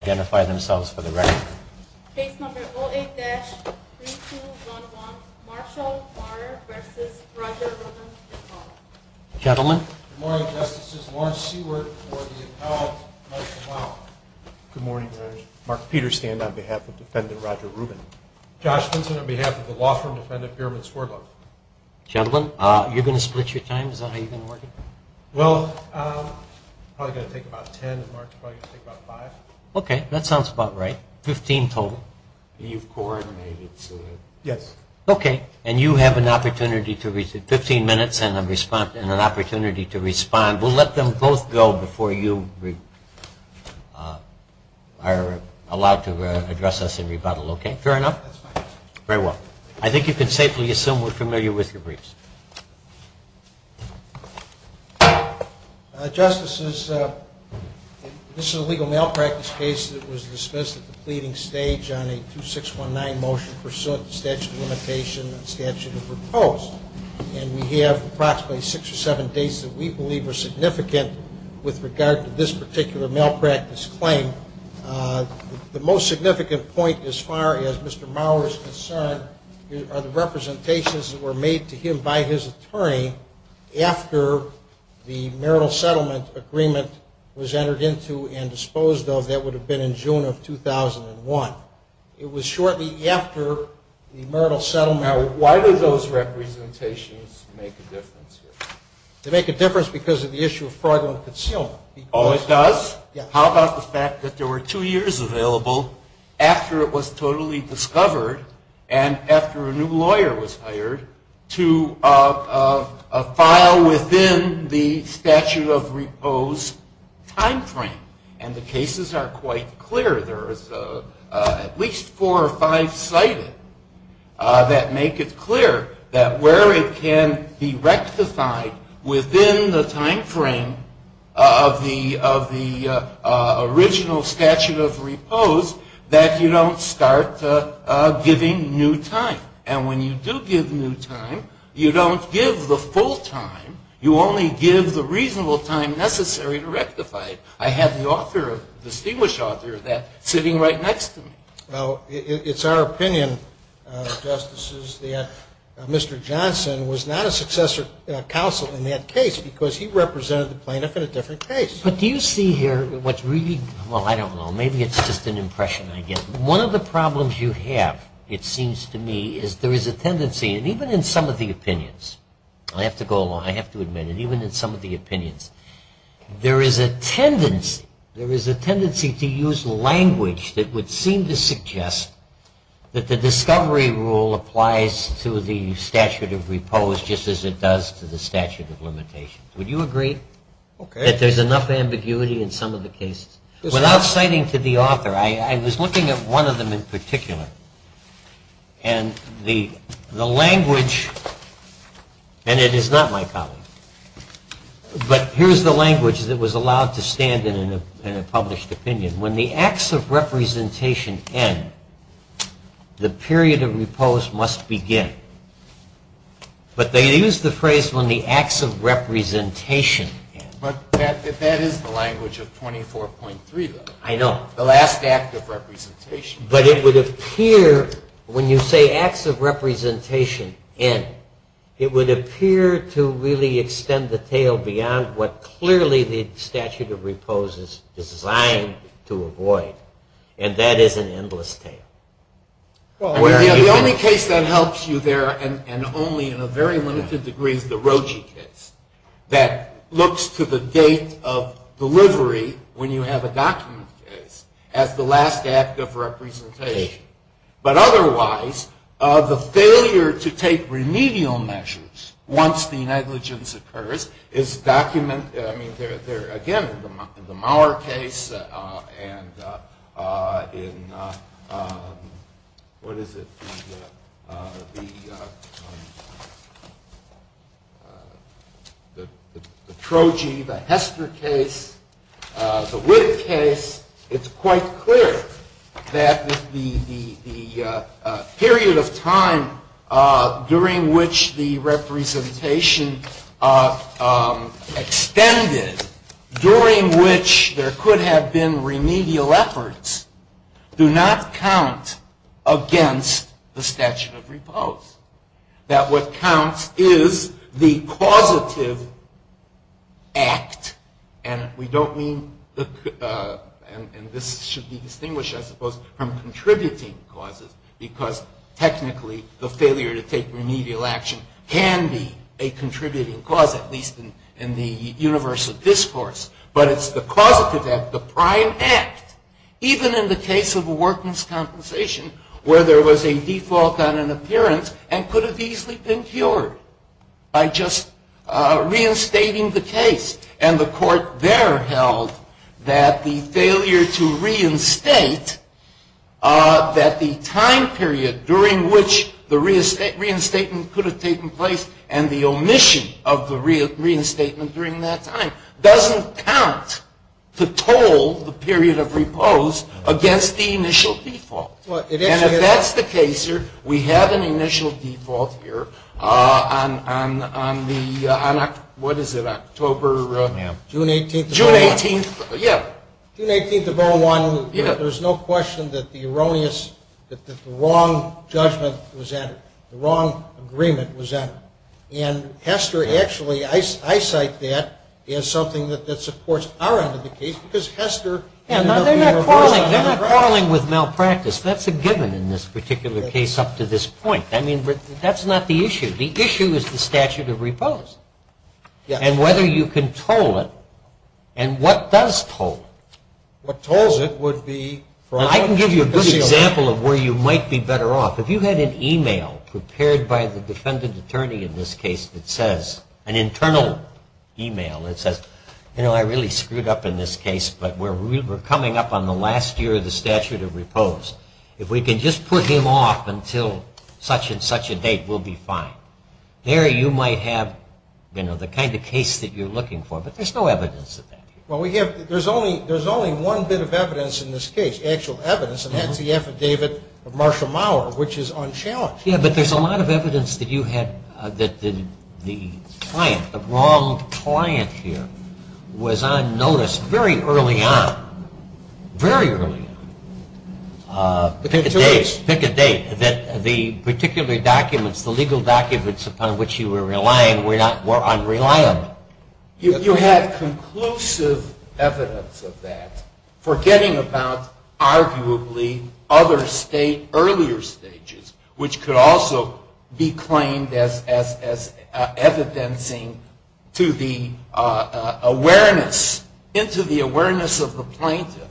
Good morning, Your Honor. Mark Peterson on behalf of the defendant Roger Rubin. Josh Vinson on behalf of the law firm defendant Berman Swerdlund. Gentlemen, you're going to split your times? Well, I'm probably going to take about ten and Mark's probably going to take about five. Okay, that sounds about right. Fifteen total. You've coordinated so that... Yes. Okay, and you have an opportunity to... fifteen minutes and an opportunity to respond. We'll let them both go before you are allowed to address us in rebuttal, okay? Fair enough? That's fine. Very well. I think you can safely assume we're familiar with your briefs. Justices, this is a legal malpractice case that was dismissed at the pleading stage on a 2-619 motion pursuant to statute of limitation and statute of repose and we have approximately six or seven dates that we believe are significant with regard to this particular malpractice claim. The most significant point as far as Mr. Mauer is concerned are the representations that were made to him by his attorney after the marital settlement agreement was entered into and disposed of that would have been in June of 2001. It was shortly after the marital settlement... Now, why did those representations make a difference here? They make a difference because of the issue of fraudulent concealment. Oh, it does? Yes. How about the fact that there were two years available after it was totally discovered and after a new lawyer was hired to file within the statute of repose time frame? And the cases are quite clear. There are at least four or five cited that make it clear that where it can be rectified within the time frame of the original statute of repose that you don't start giving new time. And when you do give new time, you don't give the full time. You only give the reasonable time necessary to rectify it. I have the author, distinguished author of that, sitting right next to me. Well, it's our opinion, Justices, that Mr. Johnson was not a successor counsel in that case because he represented the plaintiff in a different case. But do you see here what's really... Well, I don't know. Maybe it's just an impression I get. One of the problems you have, it seems to me, is there is a tendency, and even in some of the opinions, I have to admit it, even in some of the opinions, there is a tendency to use language that would seem to suggest that the discovery rule applies to the statute of repose just as it does to the statute of limitation. Would you agree that there's enough ambiguity in some of the cases? Without citing to the author, I was looking at one of them in particular. And the language, and it is not my problem, but here's the language that was allowed to stand in a published opinion. When the acts of representation end, the period of repose must begin. But they use the phrase, when the acts of representation end. But that is the language of 24.3, though. I know. The last act of representation. But it would appear, when you say acts of representation end, it would appear to really extend the tale beyond what clearly the statute of repose is designed to avoid. And that is an endless tale. The only case that helps you there, and only in a very limited degree, is the Roche case. That looks to the date of delivery, when you have a document case, as the last act of representation. But otherwise, the failure to take remedial measures once the negligence occurs, is documented, I mean, again, in the Mauer case, and in, what is it? The Trogee, the Hester case, the Witt case, it's quite clear that the period of time during which the representation extended, during which there could have been remedial efforts, do not count against the statute of repose. That what counts is the causative act, and we don't mean, and this should be distinguished, I suppose, from contributing causes, because technically, the failure to take remedial action can be a contributing cause, at least in the universe of discourse. But it's the causative act, the prime act, even in the case of workman's compensation, where there was a default on an appearance, and could have easily been cured by just reinstating the case. And the court there held that the failure to reinstate, that the time period during which the reinstatement could have taken place, and the omission of the reinstatement during that time, doesn't count to toll the period of repose against the initial default. And if that's the case here, we have an initial default here, on the, what is it, October, June 18th of 01. There's no question that the erroneous, that the wrong judgment was entered, the wrong agreement was entered. And Hester actually, I cite that as something that supports our end of the case, because Hester ended up being a person of practice. They're not quarreling with malpractice. That's a given in this particular case up to this point. I mean, that's not the issue. The issue is the statute of repose. And whether you can toll it, and what does toll it? What tolls it would be from a judicial point of view. I can give you a good example of where you might be better off. If you had an email prepared by the defendant attorney in this case that says, an internal email that says, you know, I really screwed up in this case, but we're coming up on the last year of the statute of repose. If we can just put him off until such and such a date, we'll be fine. There you might have, you know, the kind of case that you're looking for. But there's no evidence of that. Well, we have, there's only one bit of evidence in this case, actual evidence, and that's the affidavit of Marshall Maurer, which is unchallenged. Yeah, but there's a lot of evidence that you had, that the client, the wrong client here, was on notice very early on, very early on. Pick a date, pick a date, that the particular documents, the legal documents upon which you were relying were unreliable. You had conclusive evidence of that, forgetting about arguably other state, earlier stages, which could also be claimed as evidencing to the awareness, into the awareness of the plaintiff,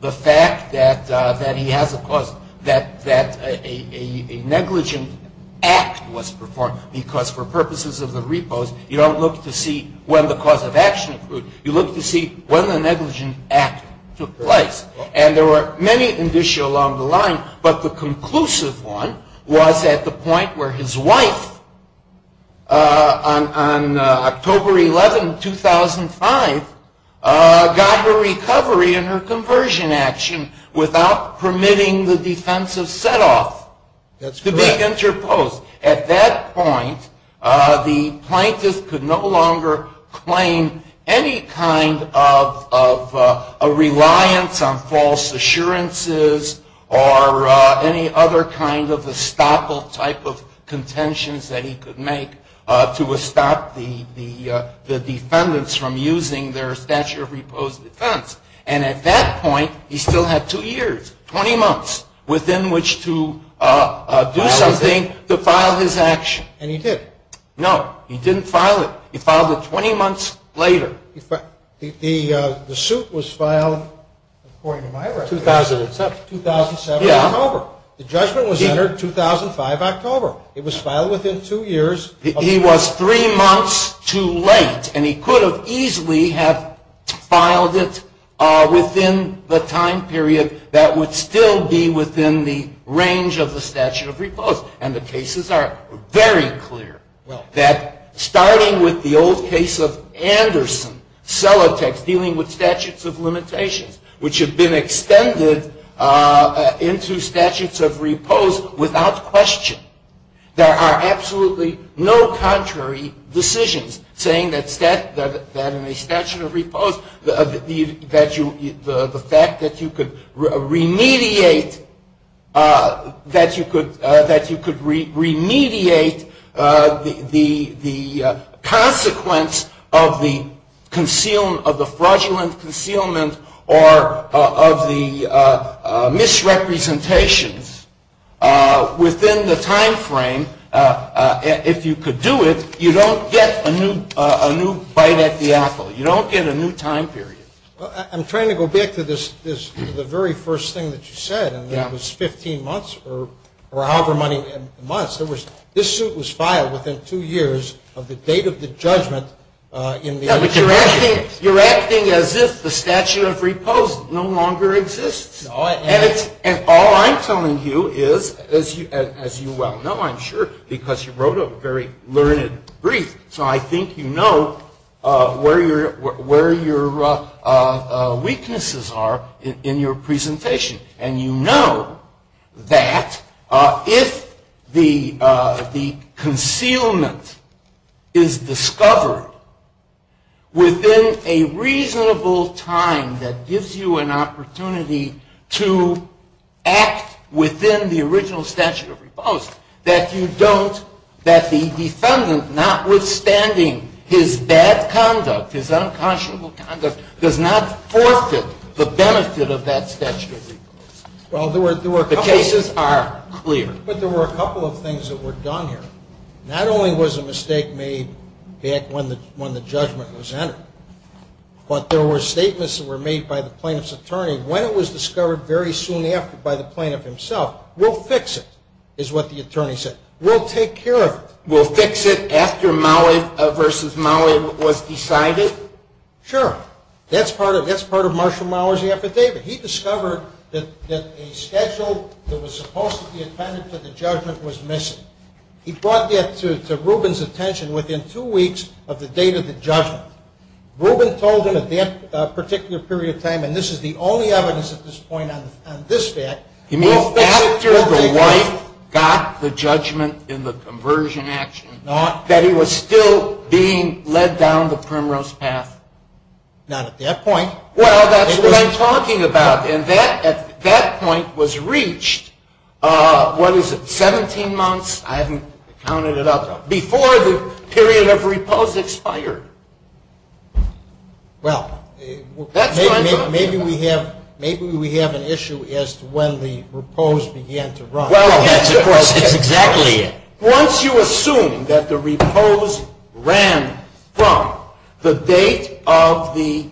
the fact that he has a cause, that a negligent act was performed, because for purposes of the repose, you don't look to see when the cause of action occurred. You look to see when the negligent act took place. And there were many indicia along the line, but the conclusive one was at the point where his wife, on October 11, 2005, got her recovery and her conversion action without permitting the defensive set off. That's correct. To be interposed. At that point, the plaintiff could no longer claim any kind of a reliance on false assurances or any other kind of estoppel type of contentions that he could make to stop the defendants from using their statute of repose defense. And at that point, he still had two years, 20 months, within which to do something to file his action. And he did. No, he didn't file it. He filed it 20 months later. The suit was filed, according to my records, 2007, October. The judgment was entered 2005, October. It was filed within two years. He was three months too late, and he could have easily have filed it within the time period that would still be within the range of the statute of repose. And the cases are very clear that, starting with the old case of Anderson, Celotex, dealing with statutes of limitations, which have been extended into statutes of repose without question, there are absolutely no contrary decisions, saying that in a statute of repose, the fact that you could remediate that you could remediate the consequence of the fraudulent concealment or of the misrepresentations within the time frame, if you could do it, you don't get a new bite at the apple. You don't get a new time period. Well, I'm trying to go back to the very first thing that you said, and that was 15 months or however many months. There was, this suit was filed within two years of the date of the judgment in the United States. You're acting as if the statute of repose no longer exists. No, I am not. And all I'm telling you is, as you well know, I'm sure, because you wrote a very learned brief. So I think you know where your weaknesses are in your presentation. And you know that if the concealment is discovered within a reasonable time that gives you an opportunity to act within the original statute of repose, that you don't, that the defendant, notwithstanding his bad conduct, his unconscionable conduct, does not forfeit the benefit of that statute of repose. The cases are clear. But there were a couple of things that were done here. Not only was a mistake made back when the judgment was entered, but there were statements that were made by the plaintiff's attorney. When it was discovered very soon after by the plaintiff himself, we'll fix it, is what the attorney said. We'll take care of it. We'll fix it after Mowat versus Mowat was decided? Sure. That's part of Marshall Mowat's affidavit. He discovered that a schedule that was supposed to be attended to the judgment was missing. He brought that to Ruben's attention within two weeks of the date of the judgment. Ruben told him at that particular period of time, and this is the only evidence at this point on this fact, he means after the wife got the judgment in the conversion action, that he was still being led down the primrose path. Not at that point. Well, that's what I'm talking about. And that at that point was reached, what is it, 17 months? I haven't counted it up. Before the period of repose expired. Well, maybe we have an issue as to when the repose began to run. Well, that's of course, it's exactly it. Once you assume that the repose ran from the date of the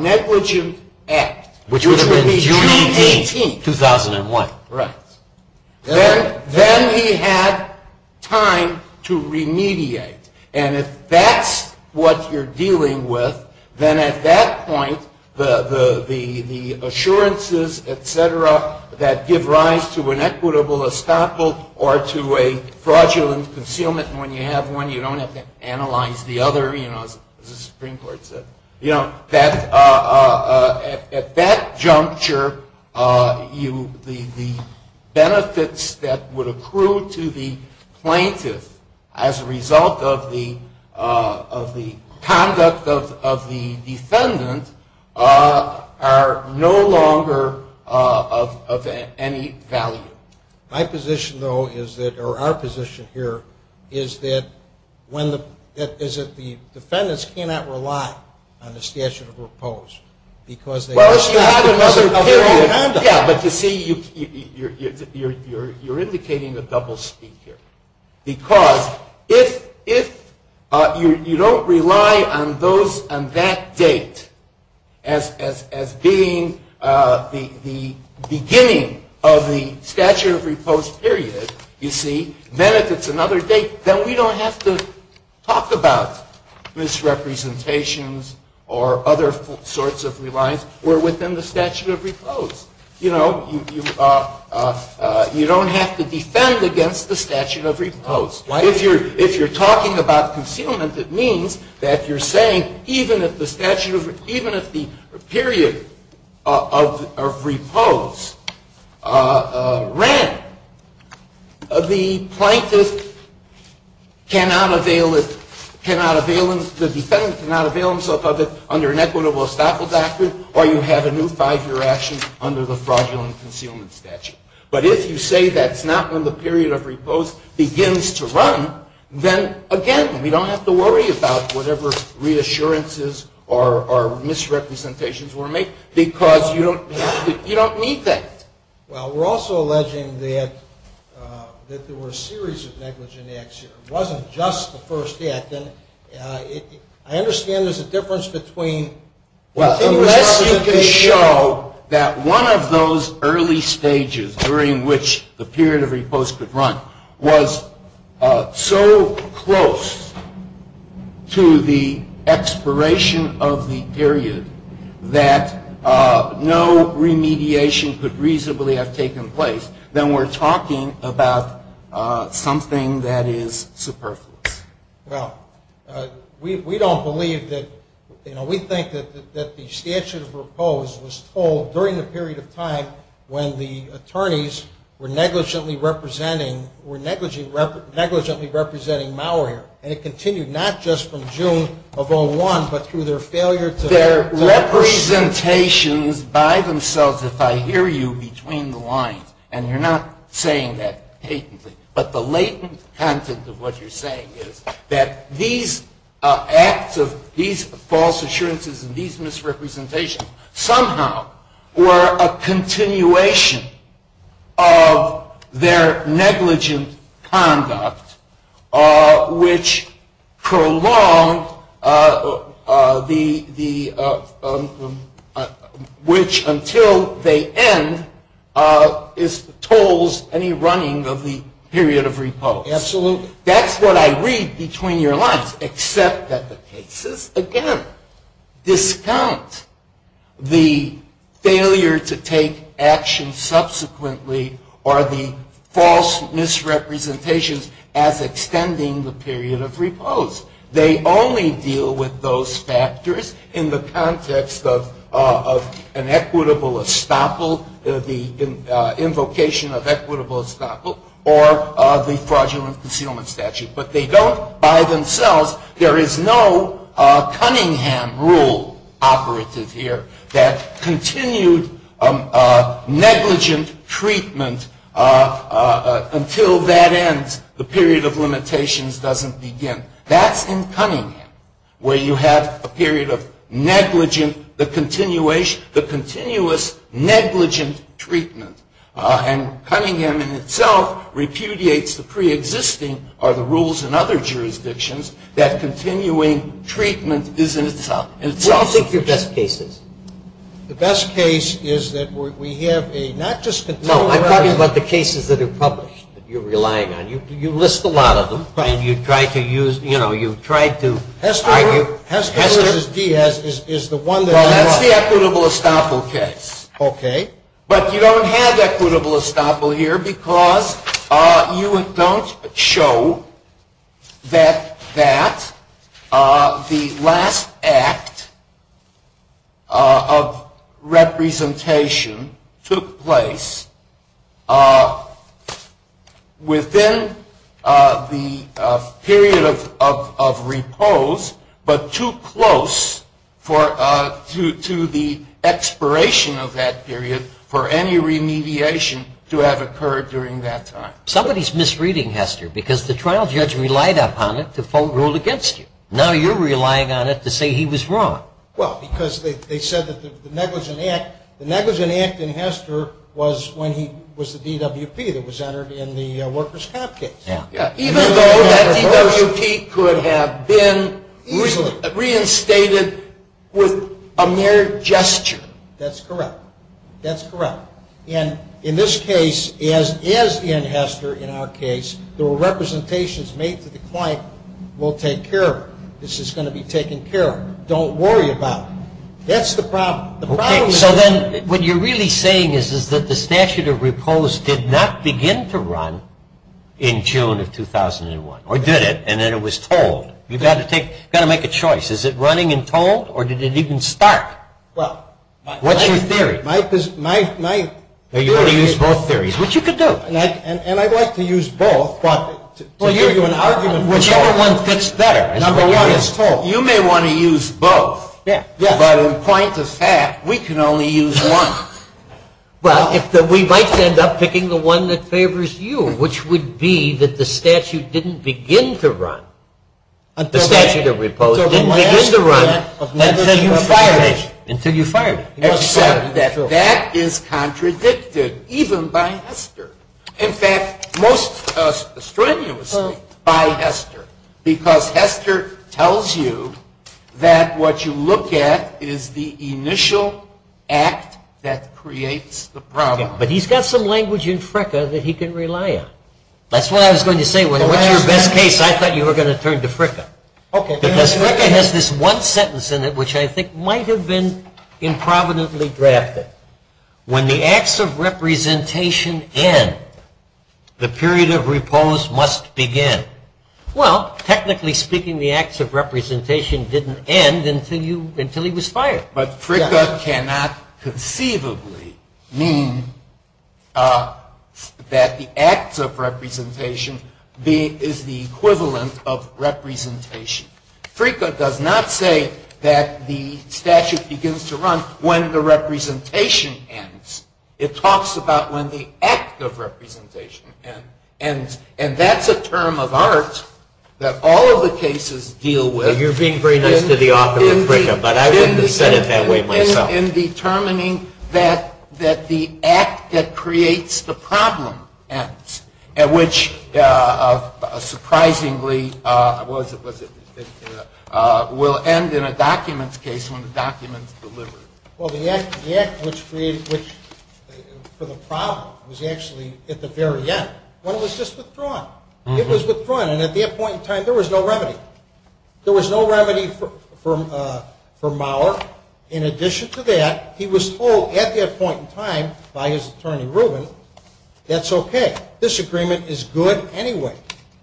negligent act. Which would have been June 18th, 2001. Right. Then he had time to remediate. And if that's what you're dealing with, then at that point, the assurances, et cetera, that give rise to an equitable estoppel or to a fraudulent concealment, when you have one, you don't have to analyze the other, as the Supreme Court said. At that juncture, the benefits that would accrue to the plaintiff as a result of the conduct of the defendant are no longer of any value. My position, though, is that, or our position here, is that the defendants cannot rely on the statute of repose. Well, if you had another period, yeah. But you see, you're indicating a double speak here. Because if you don't rely on that date as being the beginning of the statute of repose period, you see, then if it's another date, then we don't have to talk about misrepresentations or other sorts of reliance. We're within the statute of repose. You know, you don't have to defend against the statute of repose. If you're talking about concealment, it means that you're saying, even if the statute of, even if the period of repose ran, the plaintiff cannot avail, the defendant cannot avail himself of it under an equitable estoppel doctrine, or you have a new five-year action under the fraudulent concealment statute. But if you say that's not when the period of repose begins to run, then, again, we don't have to worry about whatever reassurances or misrepresentations were made, because you don't need that. Well, we're also alleging that there were a series of negligent acts here. It wasn't just the first act. And I understand there's a difference between continuous acts Unless you can show that one of those early stages during which the period of repose could run was so close to the expiration of the period that no remediation could reasonably have taken place, then we're talking about something that is superfluous. Well, we don't believe that, you know, we think that the statute of repose was told during the period of time when the attorneys were negligently representing, were negligently representing malware. And it continued not just from June of 01, but through their failure to Their representations by themselves, if I hear you, between the lines. And you're not saying that patently. But the latent content of what you're saying is that these acts of these false assurances and these misrepresentations somehow were a continuation of their negligent conduct, which prolonged the, which until they end, is, tolls any running of the period of repose. Absolutely. That's what I read between your lines, except that the cases, again, discount the failure to take action subsequently or the false misrepresentations as extending the period of repose. They only deal with those factors in the context of an equitable estoppel, the invocation of equitable estoppel, or the fraudulent concealment statute. But they don't, by themselves, there is no Cunningham rule operative here that continued negligent treatment until that ends, the period of limitations doesn't begin. That's in Cunningham, where you have a period of negligent, the continuation, the continuous negligent treatment. And Cunningham in itself repudiates the pre-existing, or the rules in other jurisdictions, that continuing treatment is in itself. What do you think your best case is? The best case is that we have a, not just a. No, I'm talking about the cases that are published that you're relying on. You list a lot of them. Right. And you try to use, you know, you try to argue. Has to be as is the one that. Well, that's the equitable estoppel case. Okay. But you don't have equitable estoppel here because you don't show that the last act of representation took place within the period of repose. But too close to the expiration of that period for any remediation to have occurred during that time. Somebody's misreading Hester because the trial judge relied upon it to full rule against you. Now you're relying on it to say he was wrong. Well, because they said that the negligent act, the negligent act in Hester was when he was the DWP that was entered in the worker's comp case. Yeah. Even though that DWP could have been reinstated with a mere gesture. That's correct. That's correct. And in this case, as in Hester, in our case, there were representations made to the client. We'll take care of it. This is going to be taken care of. Don't worry about it. That's the problem. The problem is. Okay, so then what you're really saying is that the statute of repose did not begin to run in June of 2001, or did it? And then it was told. You've got to make a choice. Is it running and told, or did it even start? Well. What's your theory? My. Are you going to use both theories? Which you could do. And I'd like to use both, but to give you an argument. Whichever one fits better. Number one is told. You may want to use both. Yeah. But in point of fact, we can only use one. Well, we might end up picking the one that favors you, which would be that the statute didn't begin to run. The statute of repose didn't begin to run until you fired it. Except that that is contradicted even by Hester. In fact, most strenuously by Hester. Because Hester tells you that what you look at is the initial act that creates the problem. But he's got some language in Fricka that he can rely on. That's what I was going to say. When it was your best case, I thought you were going to turn to Fricka. Because Fricka has this one sentence in it which I think might have been improvidently drafted. When the acts of representation end, Well, technically speaking, the acts of representation didn't end until he was fired. But Fricka cannot conceivably mean that the acts of representation is the equivalent of representation. Fricka does not say that the statute begins to run when the representation ends. It talks about when the act of representation ends. And that's a term of art that all of the cases deal with. So you're being very nice to the author of Fricka. But I wouldn't have said it that way myself. In determining that the act that creates the problem ends, at which, surprisingly, will end in a document's case when the document's delivered. Well, the act for the problem was actually at the very end when it was just withdrawn. It was withdrawn. And at that point in time, there was no remedy. There was no remedy for Maurer. In addition to that, he was told at that point in time by his attorney Rubin, that's OK. Disagreement is good anyway.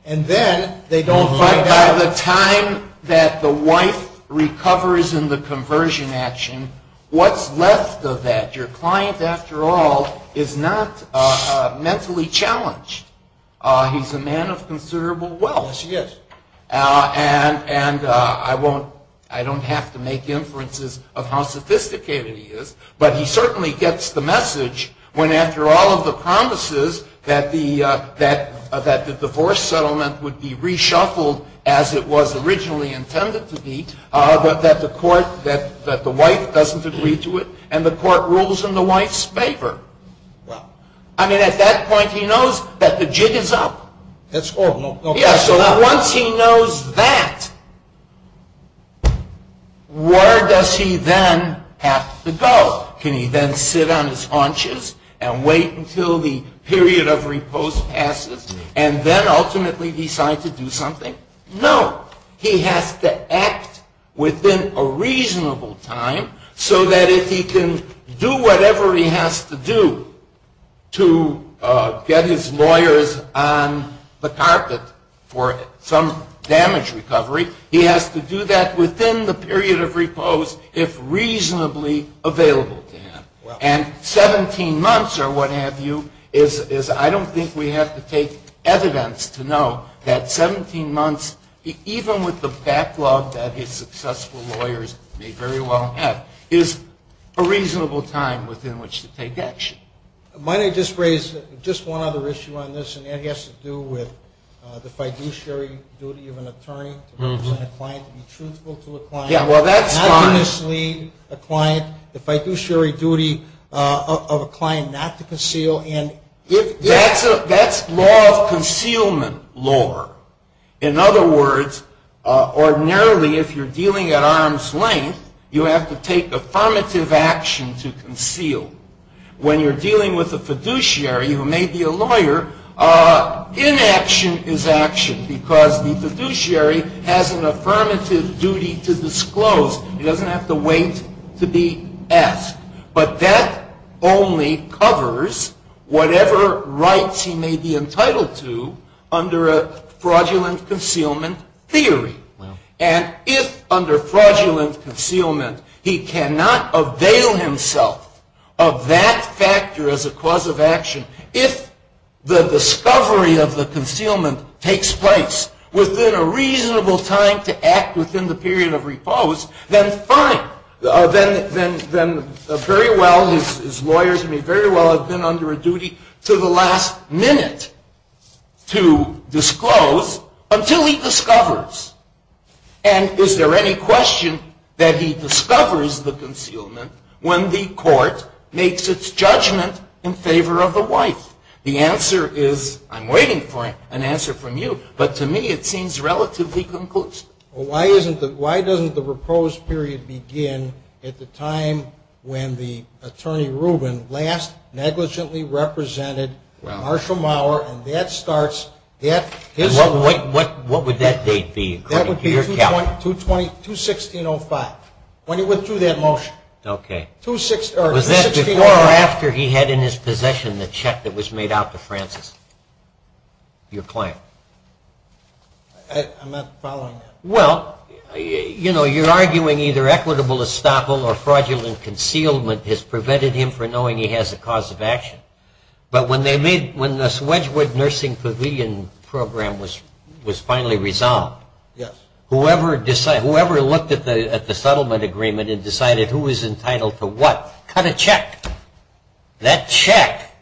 And then they don't find out. But by the time that the wife recovers in the conversion action, what's left of that? Your client, after all, is not mentally challenged. He's a man of considerable wealth. Yes, he is. And I don't have to make inferences of how sophisticated he is. But he certainly gets the message when, after all of the promises that the divorce settlement would be reshuffled as it was originally intended to be, that the court, that the wife doesn't agree to it. And the court rules in the wife's favor. I mean, at that point, he knows that the jig is up. That's all. Yes, so once he knows that, where does he then have to go? Can he then sit on his haunches and wait until the period of repose passes, and then ultimately decide to do something? No. He has to act within a reasonable time so that if he can do whatever he has to do to get his lawyers on the carpet for some damage recovery, he has to do that within the period of repose if reasonably available to him. And 17 months, or what have you, is I don't think we have to take evidence to know that 17 months, even with the backlog that his successful lawyers may very well have, is a reasonable time within which to take action. Might I just raise just one other issue on this? And it has to do with the fiduciary duty of an attorney to represent a client, to be truthful to a client. Yeah, well, that's fine. Obviously, a client, the fiduciary duty of a client not to conceal. And if that's a law of concealment law, in other words, ordinarily, if you're dealing at arm's length, you have to take affirmative action to conceal. When you're dealing with a fiduciary who may be a lawyer, inaction is action, because the fiduciary has an affirmative duty to disclose. He doesn't have to wait to be asked. But that only covers whatever rights he may be entitled to under a fraudulent concealment theory. And if, under fraudulent concealment, he cannot avail himself of that factor as a cause of action, if the discovery of the concealment takes place within a reasonable time to act within the period of repose, then fine. Then very well, his lawyers may very well have been under a duty to the last minute to disclose until he discovers. And is there any question that he discovers the concealment when the court makes its judgment in favor of the wife? The answer is, I'm waiting for an answer from you, but to me it seems relatively conclusive. Well, why doesn't the repose period begin at the time when the attorney Rubin last negligently represented Marshall Maurer, and that starts at his time? What would that date be? That would be 2-16-05, when he withdrew that motion. OK. Was that before or after he had in his possession the check that was made out to Francis, your client? I'm not following that. Well, you know, you're arguing either equitable estoppel or fraudulent concealment has prevented him from knowing he has a cause of action. But when the Wedgwood Nursing Pavilion program was finally resolved, whoever looked at the settlement agreement and decided who was entitled to what, cut a check. That check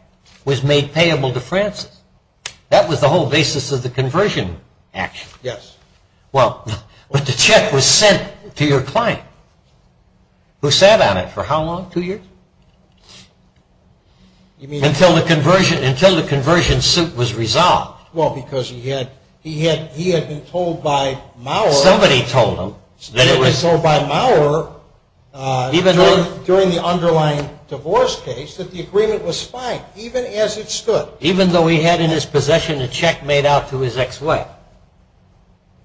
was made payable to Francis. That was the whole basis of the conversion action. Yes. Well, but the check was sent to your client, who sat on it for how long, two years? Until the conversion suit was resolved. Well, because he had been told by Maurer, during the underlying divorce case, that the agreement was fine, even as it stood. Even though he had in his possession a check made out to his ex-wife?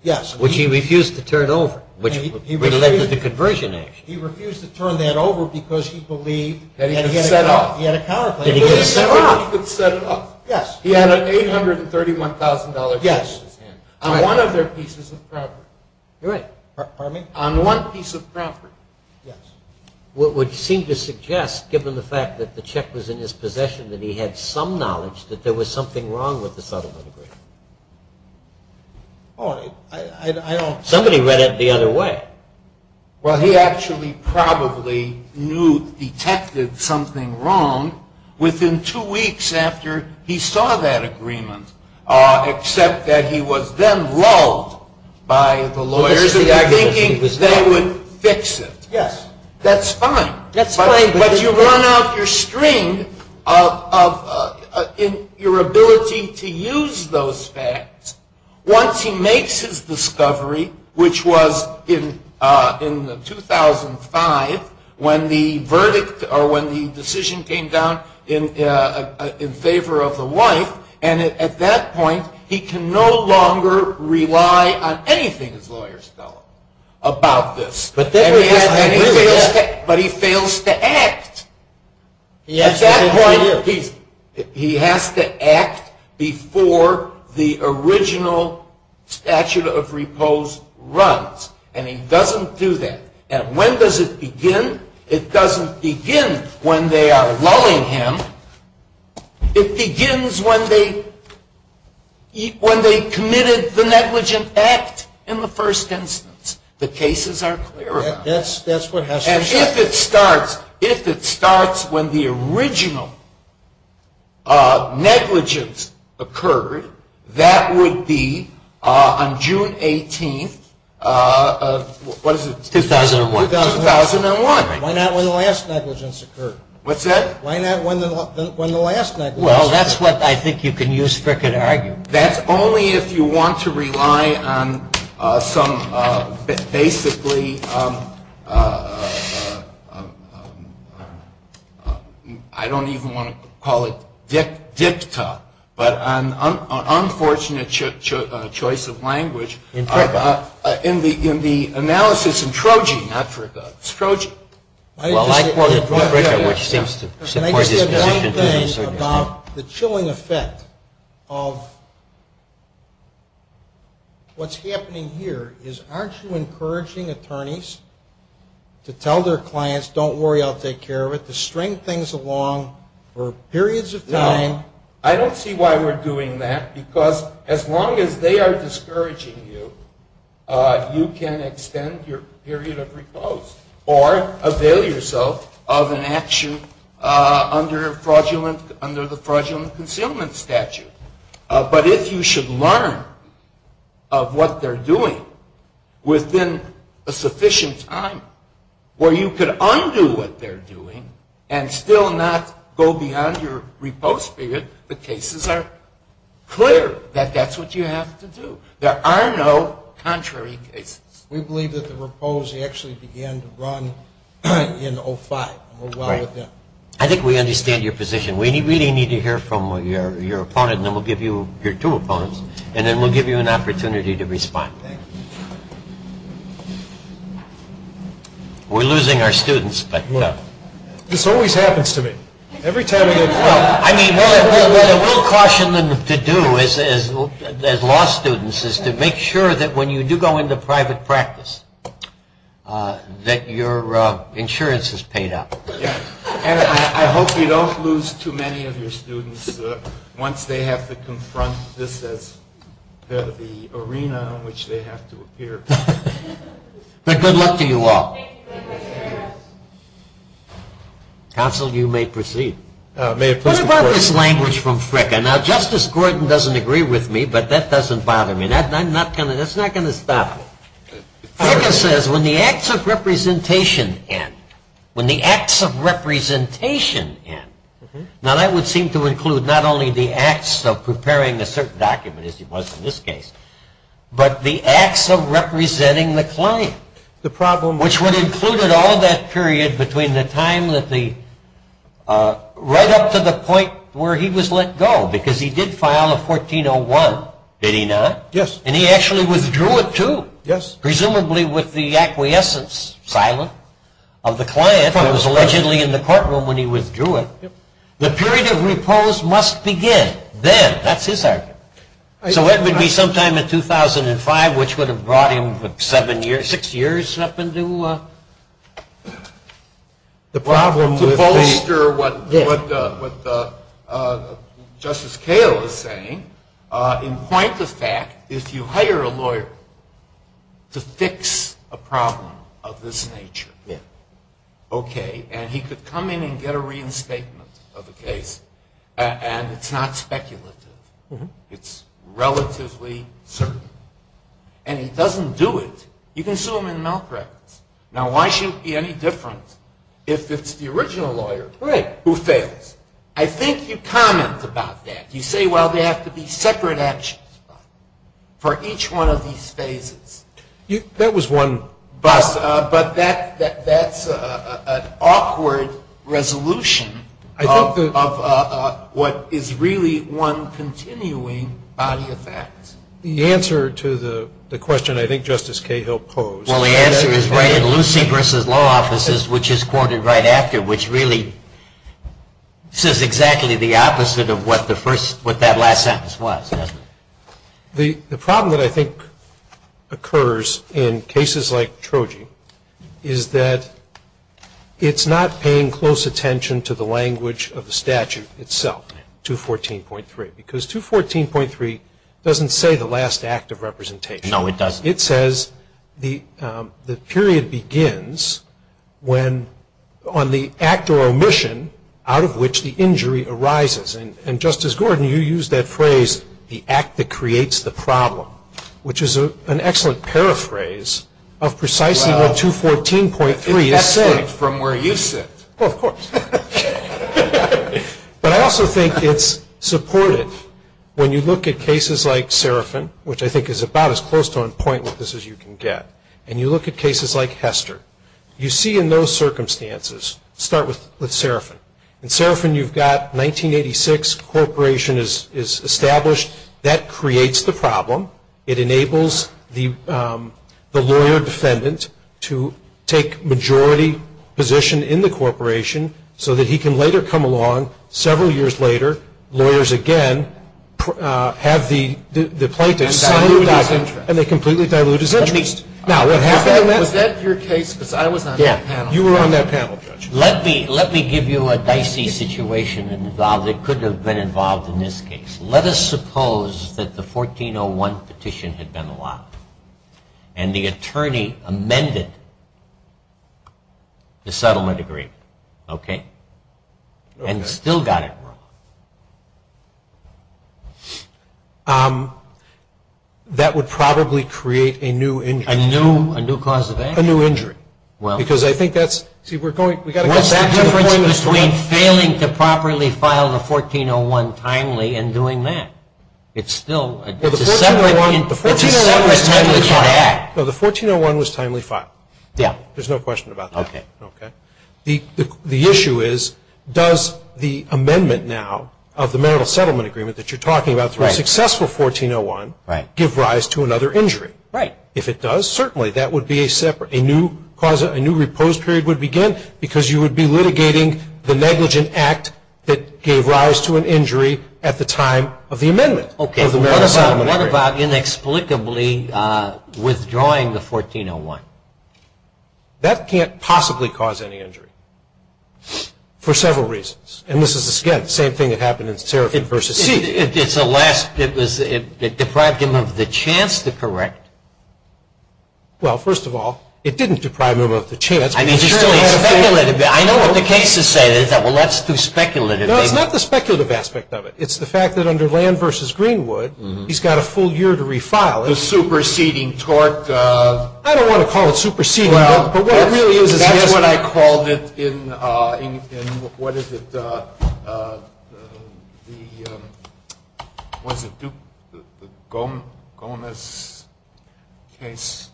Yes. Which he refused to turn over, which would have led to the conversion action. He refused to turn that over because he believed that he had a counterclaim. That he could set it off. That he could set it off. Yes. He had an $831,000 check in his hand. On one of their pieces of property. You're right. On one piece of property. What would seem to suggest, given the fact that the check was in his possession, that he had some knowledge that there was something wrong with the settlement agreement? Oh, I don't. Somebody read it the other way. Well, he actually probably knew, detected something wrong within two weeks after he saw that agreement. Except that he was then lulled by the lawyers in thinking they would fix it. Yes. That's fine. That's fine. But you run out your string of your ability to use those facts. Once he makes his discovery, which was in 2005, when the decision came down in favor of the wife. And at that point, he can no longer rely on anything his lawyers tell him about this. But then he has to agree with it. But he fails to act. He has to agree with it. He has to act before the original statute of repose runs. And he doesn't do that. And when does it begin? It doesn't begin when they are lulling him. It begins when they committed the negligent act in the first instance. The cases are clearer. Yes, that's what has to happen. And if it starts when the original negligence occurred, that would be on June 18th of what is it? 2001. 2001. 2001. Why not when the last negligence occurred? What's that? Why not when the last negligence occurred? Well, that's what I think you can use Frick in arguing. That's only if you want to rely on some basically, I don't even want to call it dicta, but an unfortunate choice of language. In Fricka. In the analysis in Trogee. Not Fricka. It's Trogee. Well, I quote Fricka, which seems to support his position to a certain extent. Can I just say one thing about the chilling effect of what's happening here is, aren't you encouraging attorneys to tell their clients, don't worry, I'll take care of it, to string things along for periods of time? No. I don't see why we're doing that. Because as long as they are discouraging you, you can extend your period of repose or avail yourself of an action under the fraudulent concealment statute. But if you should learn of what they're doing within a sufficient time, where you could undo what they're doing and still not go beyond your repose period, the cases are clear that that's what you have to do. There are no contrary cases. We believe that the repose actually began to run in 05. And we're well with them. I think we understand your position. We really need to hear from your opponent. And then we'll give you your two opponents. And then we'll give you an opportunity to respond. We're losing our students, but you know. This always happens to me. Every time I go to trial. What I will caution them to do as law students is to make sure that when you do go into private practice that your insurance is paid up. And I hope you don't lose too many of your students once they have to confront this as the arena on which they have to appear. But good luck to you all. Thank you, Mr. Chairman. Counsel, you may proceed. What about this language from Fricka? Now, Justice Gordon doesn't agree with me, but that doesn't bother me. That's not going to stop. Fricka says, when the acts of representation end. When the acts of representation end. Now, that would seem to include not only the acts of preparing a certain document, as it was in this case, but the acts of representing the claim, which would include all that period between the time that the right up to the point where he was let go. Because he did file a 1401, did he not? Yes. And he actually withdrew it, too. Yes. Presumably with the acquiescence, silent, of the client who was allegedly in the courtroom when he withdrew it. The period of repose must begin then. That's his argument. So it would be sometime in 2005, which would have brought him seven years, six years up to bolster what Justice Kale is saying, in point of fact, if you hire a lawyer to fix a problem of this nature, OK, and he could come in and get a reinstatement of the case, and it's not speculative. It's relatively certain. And he doesn't do it. You can sue him in milk records. Now, why should it be any different if it's the original lawyer who fails? I think you comment about that. You say, well, they have to be separate actions for each one of these phases. That was one. But that's an awkward resolution of what is really one continuing body of facts. The answer to the question I think Justice Cahill posed. Well, the answer is right in Lucy v. Law Offices, which is quoted right after, which really says exactly the opposite of what that last sentence was, isn't it? The problem that I think occurs in cases like Troji is that it's not paying close attention to the language of the statute itself, 214.3, because 214.3 doesn't say the last act of representation. No, it doesn't. It says the period begins on the act or omission out of which the injury arises. And Justice Gordon, you used that phrase, the act that creates the problem, which is an excellent paraphrase of precisely what 214.3 is saying. From where you sit. Well, of course. But I also think it's supportive when you look at cases like Serafin, which I think is about as close to on point with this as you can get. And you look at cases like Hester. You see in those circumstances, start with Serafin. In Serafin, you've got 1986, corporation is established. That creates the problem. It enables the lawyer defendant to take majority position in the corporation, so that he can later come along, several years later, lawyers again have the plaintiff sign the document, and they completely dilute his interest. Now, what happened in that? Was that your case? Because I was on that panel. You were on that panel, Judge. Let me give you a dicey situation involved that could have been involved in this case. Let us suppose that the 1401 petition had been allowed. And the attorney amended the settlement agreement, and still got it wrong. That would probably create a new injury. A new cause of action. A new injury. Because I think that's, see, we're going, we've got to get back to the point of the story. What's the difference between failing to properly file the 1401 timely and doing that? It's still a separate thing. The 1401 was timely filed. No, the 1401 was timely filed. There's no question about that. The issue is, does the amendment now of the marital settlement agreement that you're talking about, through a successful 1401, give rise to another injury? If it does, certainly, that would be a separate, a new repose period would begin, because you would be litigating the negligent act that gave rise to an injury at the time of the amendment of the marital settlement agreement. What about inexplicably withdrawing the 1401? That can't possibly cause any injury, for several reasons. And this is, again, the same thing that happened in Serafin v. Seeley. It's a last, it deprived him of the chance to correct. Well, first of all, it didn't deprive him of the chance. I mean, he still had a fair amount of time. I know what the cases say. They say, well, let's do speculative. No, it's not the speculative aspect of it. It's the fact that under Land v. Greenwood, he's got a full year to refile it. The superseding tort. I don't want to call it superseding. Well, that's what I called it in, what is it, the, was it Duke, Gomez case?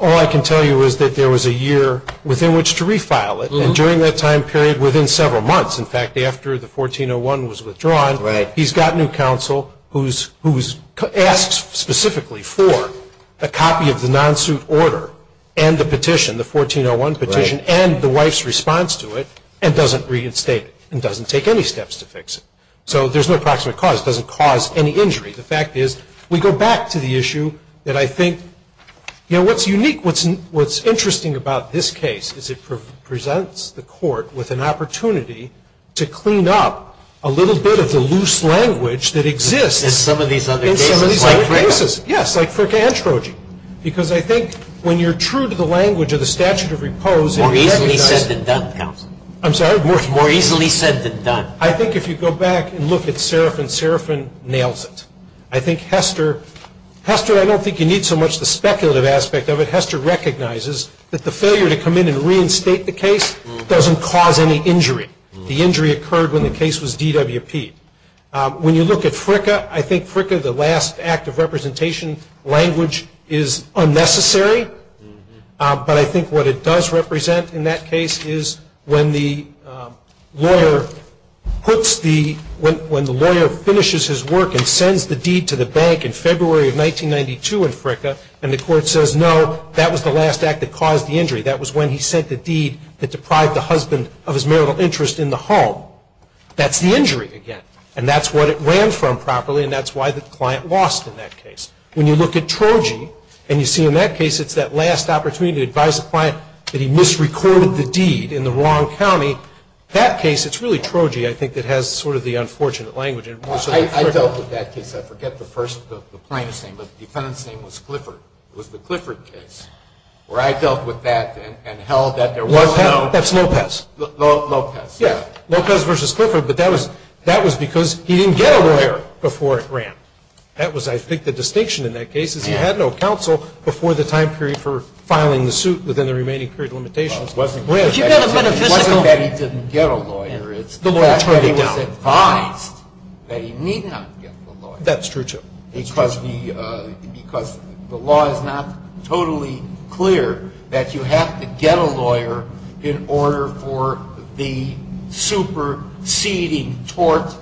All I can tell you is that there was a year within which to refile it, and during that time period, within several months. In fact, after the 1401 was withdrawn, he's got new counsel who's asked specifically for a copy of the non-suit order and the petition, the 1401 petition, and the wife's response to it and doesn't reinstate it and doesn't take any steps to fix it. So there's no approximate cause. It doesn't cause any injury. The fact is, we go back to the issue that I think, you know, what's unique, what's interesting about this case is it presents the court with an opportunity to clean up a little bit of the loose language that exists in some of these other cases. Yes, like for androgyny, because I think when you're true to the language of the statute of repose and you recognize it. More easily said than done, counsel. I'm sorry? More easily said than done. I think if you go back and look at Serafin, Serafin nails it. I think Hester, Hester, I don't think you need so much the speculative aspect of it. Hester recognizes that the failure to come in and reinstate the case doesn't cause any injury. The injury occurred when the case was DWP'd. When you look at Fricka, I think Fricka, the last act of representation language, is unnecessary. But I think what it does represent in that case is when the lawyer puts the, when the lawyer finishes his work and sends the deed to the bank in February of 1992 in Fricka, and the court says, no, that was the last act that caused the injury. That was when he sent the deed that deprived the husband of his marital interest in the home. That's the injury again. And that's what it ran from properly, and that's why the client lost in that case. When you look at Trogee, and you see in that case it's that last opportunity to advise the client that he misrecorded the deed in the wrong county, that case, it's really Trogee, I think, that has sort of the unfortunate language. I dealt with that case. I forget the plaintiff's name, but the defendant's name was Clifford. It was the Clifford case. Where I dealt with that and held that there was no. That's Lopez. Lopez. Yeah. Lopez versus Clifford, but that was because he didn't get a lawyer before it ran. That was, I think, the distinction in that case is he had no counsel before the time period for filing the suit within the remaining period limitations. It wasn't that he didn't get a lawyer. It's that he was advised that he need not get the lawyer. That's true, too. Because the law is not totally clear that you have to get a lawyer in order for the superseding tort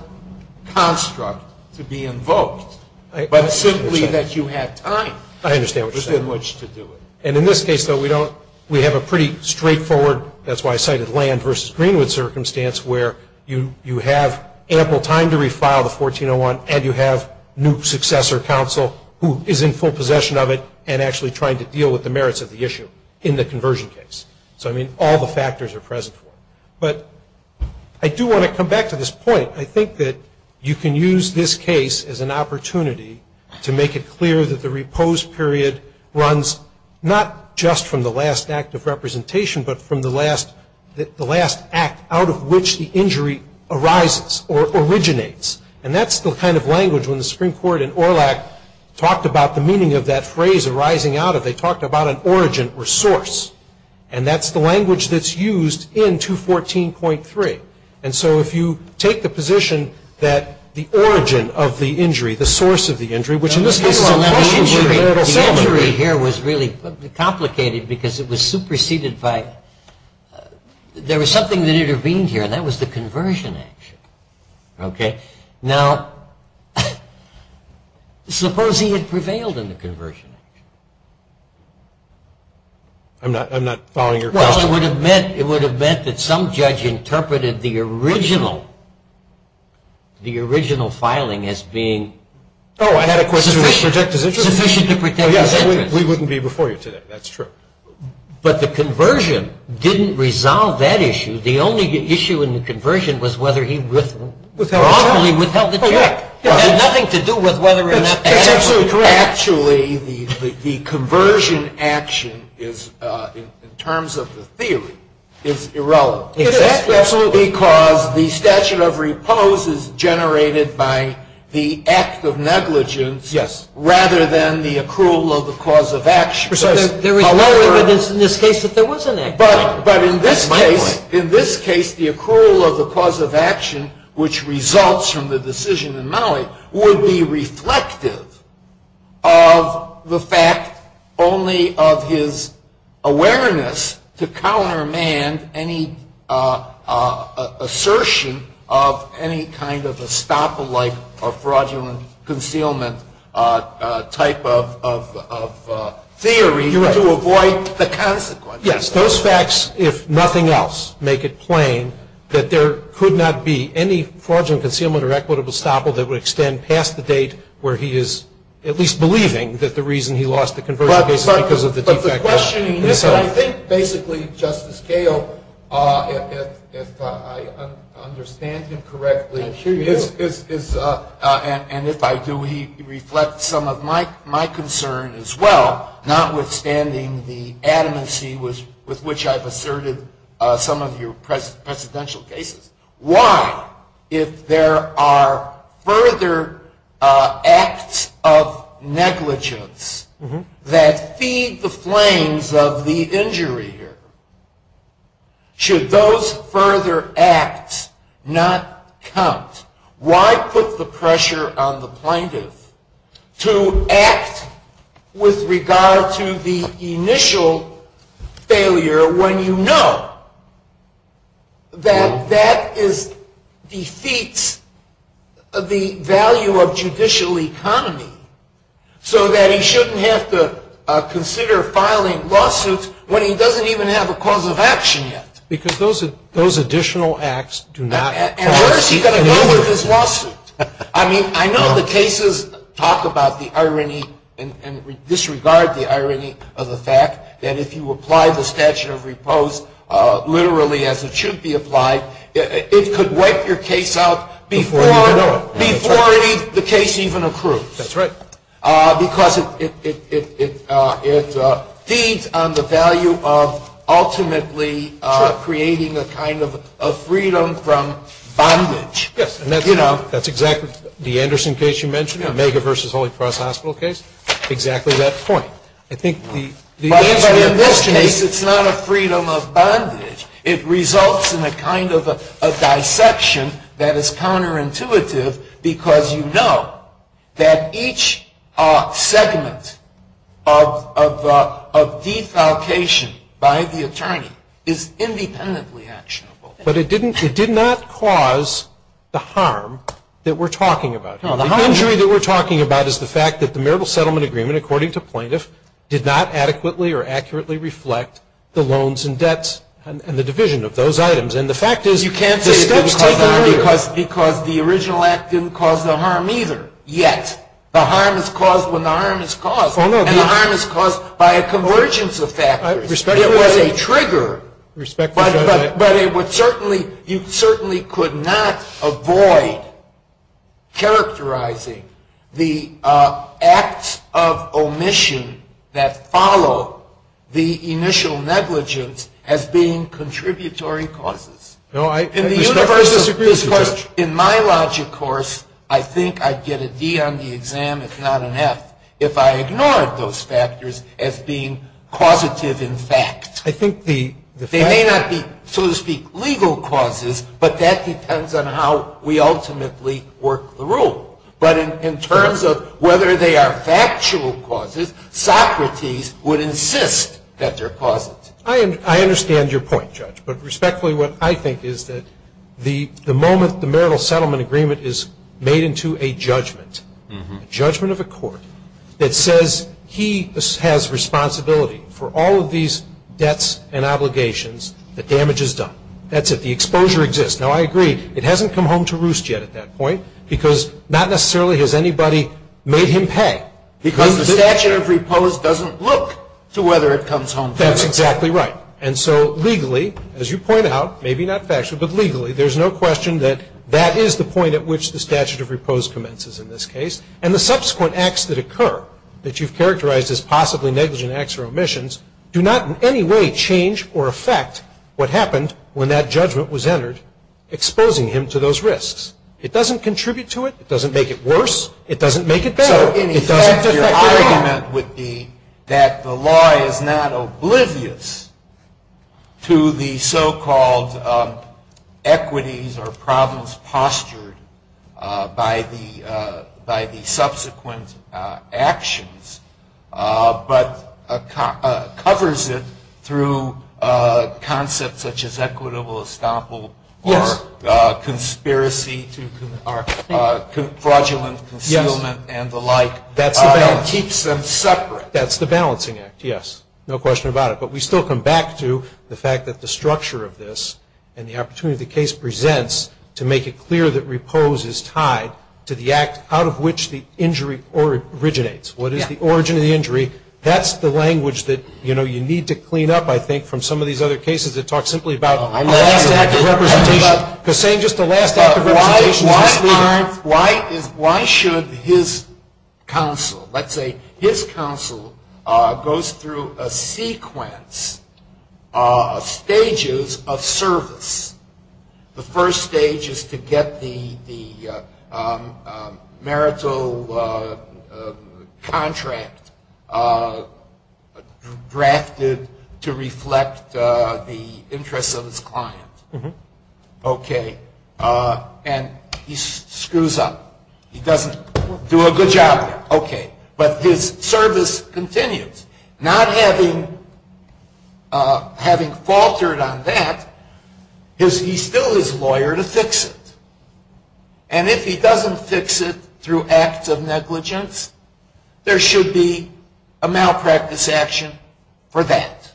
construct to be invoked, but simply that you have time. I understand what you're saying. And in this case, though, we have a pretty straightforward, that's why I cited Land versus Greenwood circumstance, where you have ample time to refile the 1401, and you have new successor counsel who is in full possession of it and actually trying to deal with the merits of the issue in the conversion case. So I mean, all the factors are present. But I do want to come back to this point. I think that you can use this case as an opportunity to make it clear that the repose period runs not just from the last act of representation, but from the last act out of which the injury arises or originates. And that's the kind of language, when the Supreme Court in Orlak talked about the meaning of that phrase arising out of, they talked about an origin or source. And that's the language that's used in 214.3. And so if you take the position that the origin of the injury, the source of the injury, which in this case, the injury here was really complicated because it was superseded by, there was something that intervened here, and that was the conversion action. Now, suppose he had prevailed in the conversion action. I'm not following your question. Well, it would have meant that some judge interpreted the original filing as being sufficient to protect his interest. Sufficient to protect his interest. We wouldn't be before you today. That's true. But the conversion didn't resolve that issue. The only issue in the conversion was whether he wrongly withheld the check. It had nothing to do with whether or not the action was correct. Actually, the conversion action, in terms of the theory, is irrelevant. Is that so? Because the statute of repose is generated by the act of negligence rather than the accrual of the cause of action. Precisely. There was no evidence in this case that there was an act. But in this case, the accrual of the cause of action, which results from the decision in Malley, would be reflective of the fact only of his awareness to countermand any assertion of any kind of estoppel-like or fraudulent concealment type of theory to avoid the consequences. Yes, those facts, if nothing else, make it plain that there could not be any fraudulent concealment or equitable estoppel that would extend past the date where he is at least believing that the reason he lost the conversion case is because of the de facto. But the questioning is that I think, basically, Justice Gale, if I understand him correctly, and if I do, he reflects some of my concern as well, notwithstanding the adamancy with which I've asserted some of your presidential cases. Why, if there are further acts of negligence that feed the flames of the injury here, should those further acts not count? Why put the pressure on the plaintiff to act with regard to the initial failure when you know that that defeats the value of judicial economy so that he shouldn't have to consider filing lawsuits when he doesn't even have a cause of action yet? Because those additional acts do not count. And where is he going to go with his lawsuit? I mean, I know the cases talk about the irony and disregard the irony of the fact that if you apply the statute of repose literally as it should be applied, it could wipe your case out before the case even accrues. That's right. Because it feeds on the value of ultimately creating a kind of freedom from bondage. Yes, and that's exactly the Anderson case you mentioned, Omega versus Holy Cross Hospital case, exactly that point. I think the answer in this case, it's not a freedom of bondage. It results in a kind of a dissection that is counterintuitive because you know that each segment of defalcation by the attorney is independently actionable. But it did not cause the harm that we're talking about here. The injury that we're talking about is the fact that the marital settlement agreement, according to plaintiffs, did not adequately or accurately reflect the loans and debts and the division of those items. And the fact is, the steps taken are real. Because the original act didn't cause the harm either, yet. The harm is caused when the harm is caused. Oh, no. And the harm is caused by a convergence of factors. Respectively. It was a trigger, but you certainly could not avoid characterizing the acts of omission that follow the initial negligence as being contributory causes. No, I respectfully disagree with you, Judge. In my logic course, I think I'd get a D on the exam, if not an F, if I ignored those factors as being causative in fact. I think the fact- They may not be, so to speak, legal causes, but that depends on how we ultimately work the rule. But in terms of whether they are factual causes, Socrates would insist that they're causative. I understand your point, Judge. But respectfully, what I think is that the moment the marital settlement agreement is made into a judgment, a judgment of a court that says he has responsibility for all of these debts and obligations, the damage is done. That's it. The exposure exists. Now, I agree. It hasn't come home to roost yet at that point, because not necessarily has anybody made him pay. Because the statute of repose doesn't look to whether it comes home to him. That's exactly right. And so legally, as you point out, maybe not factually, but legally, there's no question that that is the point at which the statute of repose commences in this case. And the subsequent acts that occur, that you've characterized as possibly negligent acts or omissions, do not in any way change or affect what happened when that judgment was entered, exposing him to those risks. It doesn't contribute to it. It doesn't make it worse. It doesn't make it better. It doesn't affect it at all. So in effect, your argument would be that the law is not oblivious to the so-called equities or problems postured by the subsequent actions, but covers it through concepts such as equitable estoppel or conspiracy to fraudulent concealment and the like. That's the balancing act. It keeps them separate. That's the balancing act, yes. No question about it. But we still come back to the fact that the structure of this and the opportunity the case proposes is tied to the act out of which the injury originates. What is the origin of the injury? That's the language that you need to clean up, I think, from some of these other cases that talk simply about the last act of representation. Because saying just the last act of representation is misleading. Why should his counsel, let's say his counsel, goes through a sequence of stages of service? The first stage is to get the marital contract drafted to reflect the interests of his client. OK. And he screws up. He doesn't do a good job there. OK. But his service continues. Not having faltered on that, he's still his lawyer to fix it. And if he doesn't fix it through acts of negligence, there should be a malpractice action for that.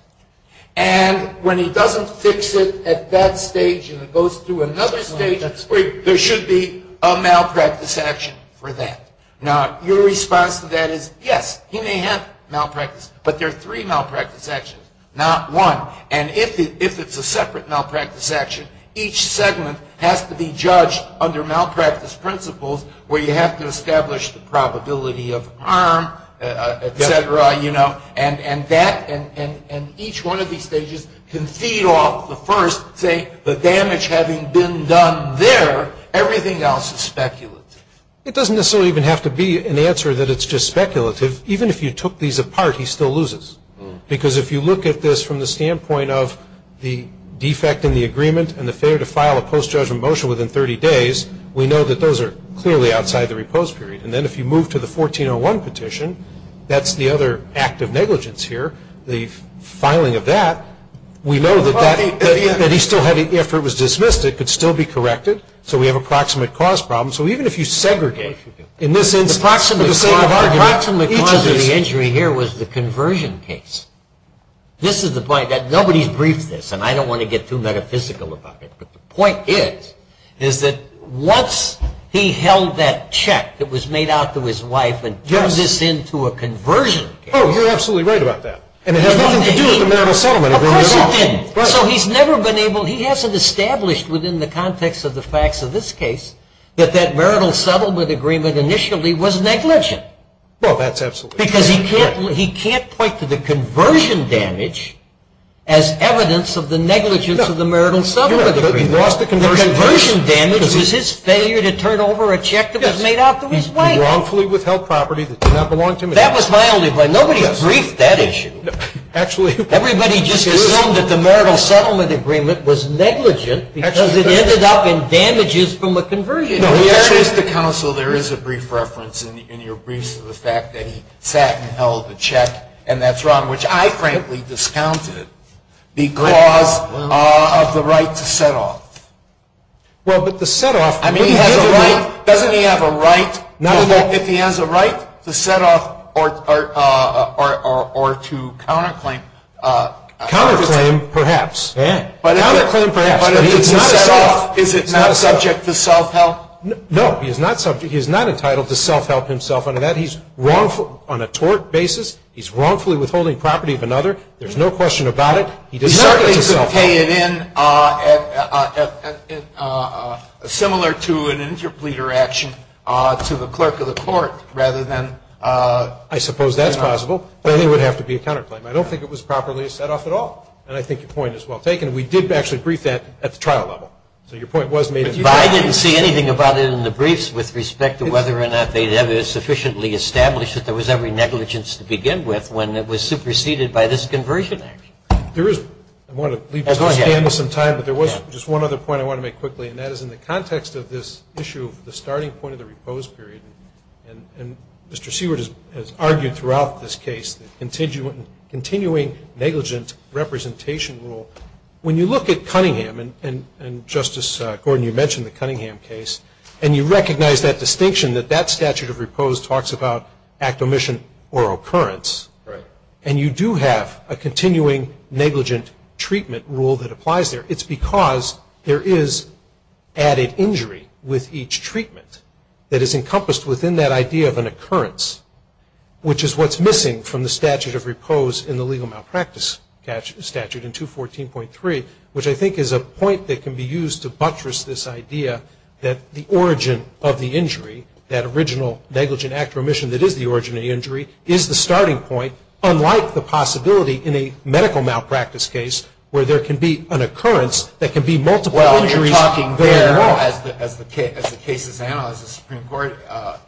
And when he doesn't fix it at that stage and it goes through another stage, there should be a malpractice action for that. Now, your response to that is, yes, he may have malpractice. But there are three malpractice actions, not one. And if it's a separate malpractice action, each segment has to be judged under malpractice principles where you have to establish the probability of harm, et cetera. And that and each one of these stages can feed off the first, say, the damage having been done there. Everything else is speculative. It doesn't necessarily even have to be an answer that it's just speculative. Even if you took these apart, he still loses. Because if you look at this from the standpoint of the defect in the agreement and the failure to file a post-judgment motion within 30 days, we know that those are clearly outside the repose period. And then if you move to the 1401 petition, that's the other act of negligence here, the filing of that. We know that he still had, after it was dismissed, it could still be corrected. So we have a proximate cause problem. So even if you segregate, in this instance, for the sake of argument, each of these is. The proximate cause of the injury here was the conversion case. This is the point. Nobody's briefed this. And I don't want to get too metaphysical about it. But the point is that once he held that check that was made out to his wife and turned this into a conversion case. Oh, you're absolutely right about that. And it has nothing to do with the manner of settlement of the result. Of course it didn't. So he's never been able, he hasn't established within the context of the facts of this case that that marital settlement agreement initially was negligent. Well, that's absolutely true. Because he can't point to the conversion damage as evidence of the negligence of the marital settlement agreement. He lost the conversion. The conversion damage was his failure to turn over a check that was made out to his wife. He wrongfully withheld property that did not belong to him. That was my only blame. Nobody briefed that issue. Actually, everybody just assumed that the marital settlement agreement was negligent because it ended up on damages from the conversion. No, there is, to counsel, there is a brief reference in your briefs to the fact that he sat and held the check and that's wrong, which I frankly discounted because of the right to set off. Well, but the set off, wouldn't he have a right? Doesn't he have a right, if he has a right, to set off or to counterclaim? Counterclaim, perhaps. Counterclaim, perhaps, but he needs to set off. Is it not subject to self-help? No, he is not entitled to self-help himself under that. He's wrongful on a tort basis. He's wrongfully withholding property of another. There's no question about it. He does not get to self-help. He's not going to pay it in similar to an interpleader action to the clerk of the court, rather than a counterclaim. I suppose that's possible, but it would have to be a counterclaim. I don't think it was properly set off at all. And I think your point is well taken. We did actually brief that at the trial level. So your point was made at the trial. But I didn't see anything about it in the briefs with respect to whether or not they'd ever sufficiently established that there was every negligence to begin with when it was superseded by this conversion act. There is. I want to leave this to stand for some time, but there was just one other point I want to make quickly, and that is in the context of this issue of the starting point of the repose period. And Mr. Seward has argued throughout this case that continuing negligent representation rule, when you look at Cunningham, and Justice Gordon, you mentioned the Cunningham case, and you recognize that distinction that that statute of repose talks about act omission or occurrence. And you do have a continuing negligent treatment rule that applies there. It's because there is added injury with each treatment that is encompassed within that idea of an occurrence, which is what's missing from the statute of repose in the legal malpractice statute in 214.3, which I think is a point that can be used to buttress this idea that the origin of the injury, that original negligent act or omission that is the origin of the injury, is the starting point, unlike the possibility in a medical malpractice case where there can be an occurrence that can be multiple injuries very well. Well, you're talking there, as the Supreme Court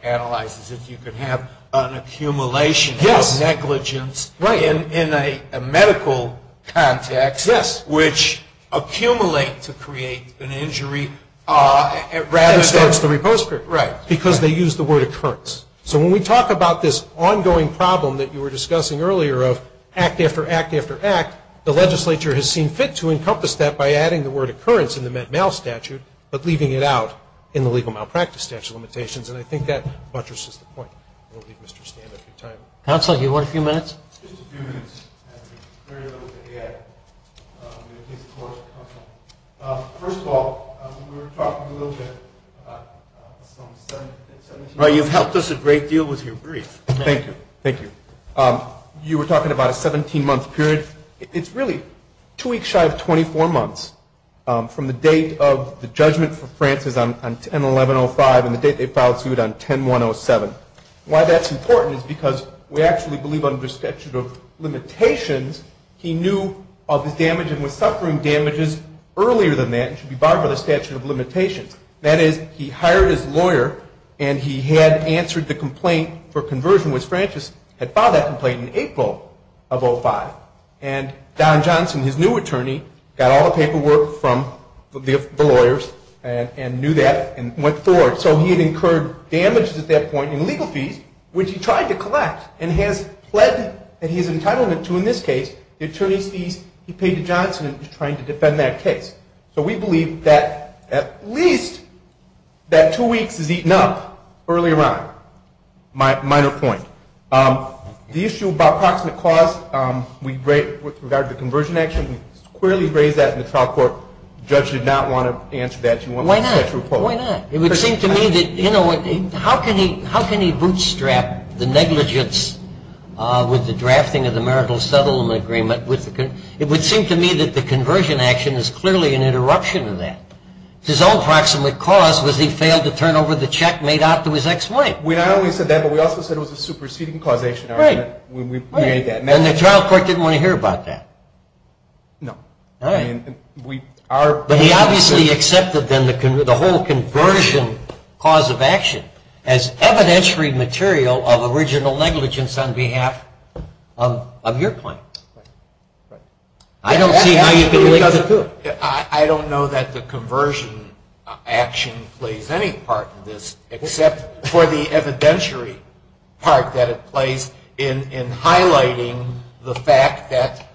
analyzes it, you could have an accumulation of negligence in a medical context, which accumulate to create an injury rather than. It starts the repose period. Right. Because they use the word occurrence. So when we talk about this ongoing problem that you were discussing earlier of act after act after act, the legislature has seen fit to encompass that by adding the word occurrence in the met mal statute, but leaving it out in the legal malpractice statute limitations. And I think that buttresses the point. I won't leave Mr. Standaff your time. Counsel, you want a few minutes? Just a few minutes. I have very little to add in the case of course, counsel. First of all, we were talking a little bit about some 17 months. Well, you've helped us a great deal with your brief. Thank you. Thank you. You were talking about a 17 month period. It's really two weeks shy of 24 months from the date of the judgment for Francis on 10-1105 and the date they filed suit on 10-107. Why that's important is because we actually believe under statute of limitations, he knew of his damage and was suffering damages earlier than that and should be barred by the statute of limitations. That is, he hired his lawyer and he had answered the complaint for conversion when Francis had filed that complaint in April of 05. And Don Johnson, his new attorney, got all the paperwork from the lawyers and knew that and went forward. So he had incurred damages at that point and legal fees, which he tried to collect and has pled that he is entitled to in this case. The attorney's fees he paid to Johnson and was trying to defend that case. So we believe that at least that two weeks is eaten up earlier on, minor point. The issue about proximate cause, with regard to the conversion action, we squarely raised that in the trial court. Judge did not want to answer that. She wanted the statute of limitations. Why not? It would seem to me that, how can he bootstrap the negligence with the drafting of the marital settlement agreement? It would seem to me that the conversion action is clearly an interruption of that. His own proximate cause was he failed to turn over the check made out to his ex-wife. We not only said that, but we also said it was a superseding causation argument when we made that mention. And the trial court didn't want to hear about that. No. I mean, we are. But he obviously accepted, then, the whole conversion cause of action as evidentiary material of original negligence on behalf of your client. I don't see how you can link it. I don't know that the conversion action plays any part in this, except for the evidentiary part that it plays in highlighting the fact that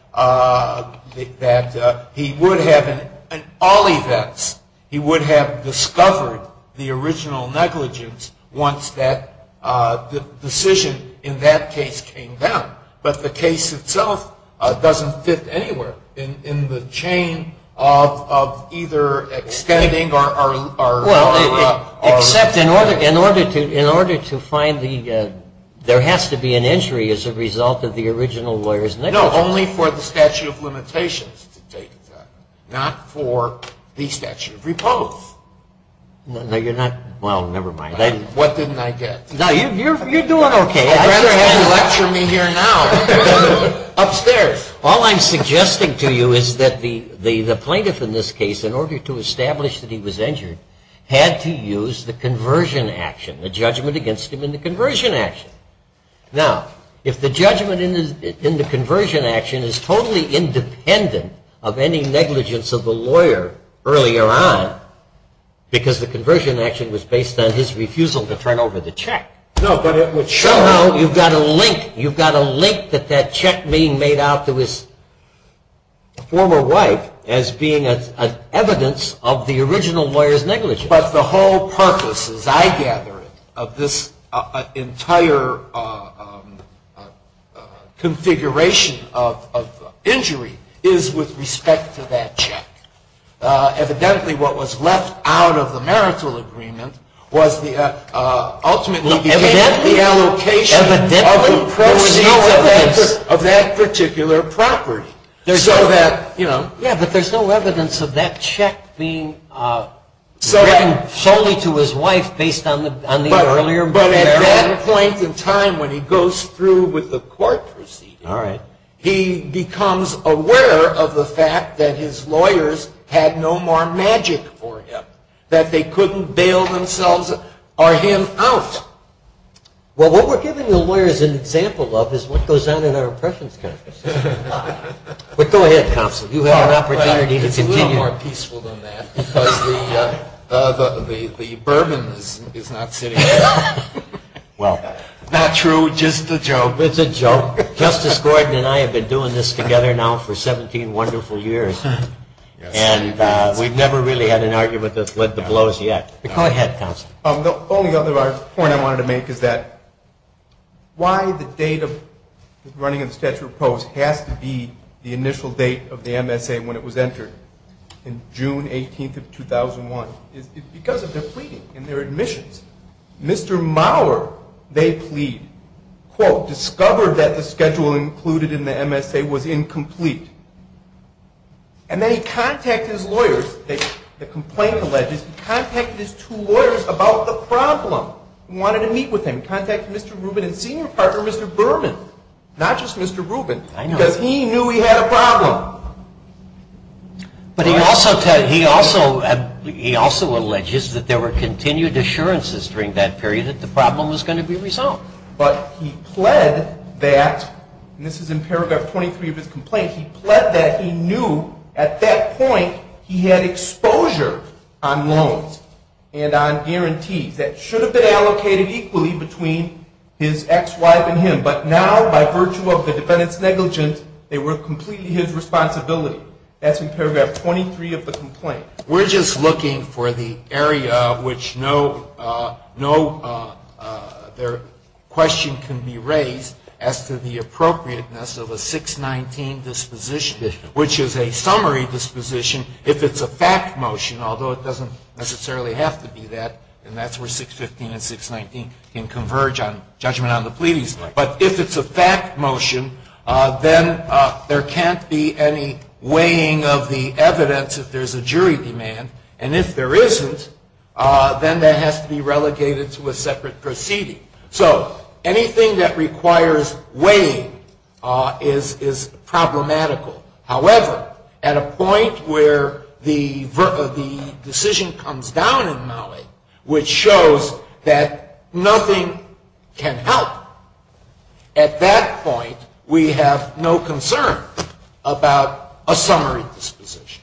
he would have, in all events, he would have discovered the original negligence once the decision in that case came down. But the case itself doesn't fit anywhere in the chain of either extending or lowering up. Except in order to find the, there has to be an injury as a result of the original lawyer's negligence. No, only for the statute of limitations to take effect, not for the statute of repose. No, you're not. Well, never mind. What didn't I get? No, you're doing OK. I'd rather have you lecture me here now. Upstairs. All I'm suggesting to you is that the plaintiff, in this case, in order to establish that he was injured, had to use the conversion action, the judgment against him in the conversion action. Now, if the judgment in the conversion action is totally independent of any negligence of the lawyer earlier on, because the conversion action was based on his refusal to turn over the check. No, but it would show how you've got a link. You've got a link that that check being made out to his former wife as being an evidence of the original lawyer's negligence. But the whole purpose, as I gather it, of this entire configuration of injury is with respect to that check. Evidently, what was left out of the marital agreement was ultimately the allocation of the proceeds of that particular property. So that, you know. Yeah, but there's no evidence of that check being given solely to his wife based on the earlier marital agreement. But at that point in time, when he goes through with the court proceeding, he becomes aware of the fact that his lawyers had no more magic for him, that they couldn't bail themselves or him out. Well, what we're giving the lawyers an example of is what goes on in our impressions countries. But go ahead, counsel. You have an opportunity to continue. It's a little more peaceful than that, because the bourbon is not sitting there. Well. Not true, just a joke. It's a joke. Justice Gordon and I have been doing this together now for 17 wonderful years. And we've never really had an argument that's led to blows yet. Go ahead, counsel. The only other point I wanted to make is that why the date of running in the Statute of Proposal has to be the initial date of the MSA when it was entered, in June 18th of 2001, is because of their pleading and their admissions. Mr. Maurer, they plead, quote, discovered that the schedule included in the MSA was incomplete. And then he contacted his lawyers, the complaint alleges, he contacted his two lawyers about the problem. Wanted to meet with him, contact Mr. Rubin and senior partner Mr. Berman. Not just Mr. Rubin, because he knew he had a problem. But he also alleges that there were continued assurances during that period that the problem was going to be resolved. But he pled that, and this is in paragraph 23 of his complaint, he pled that he knew at that point he had exposure on loans and on guarantees. That should have been allocated equally between his ex-wife and him. But now, by virtue of the defendant's negligence, they were completely his responsibility. That's in paragraph 23 of the complaint. We're just looking for the area of which no question can be raised as to the appropriateness of a 619 disposition, which is a summary disposition if it's a fact motion, although it doesn't necessarily have to be that. And that's where 615 and 619 can converge on judgment on the pleadings. But if it's a fact motion, then there can't be any weighing of the evidence if there's a jury demand. And if there isn't, then that has to be relegated to a separate proceeding. So anything that requires weighing is problematical. However, at a point where the decision comes down in Maui, which shows that nothing can help, at that point, we have no concern about a summary disposition,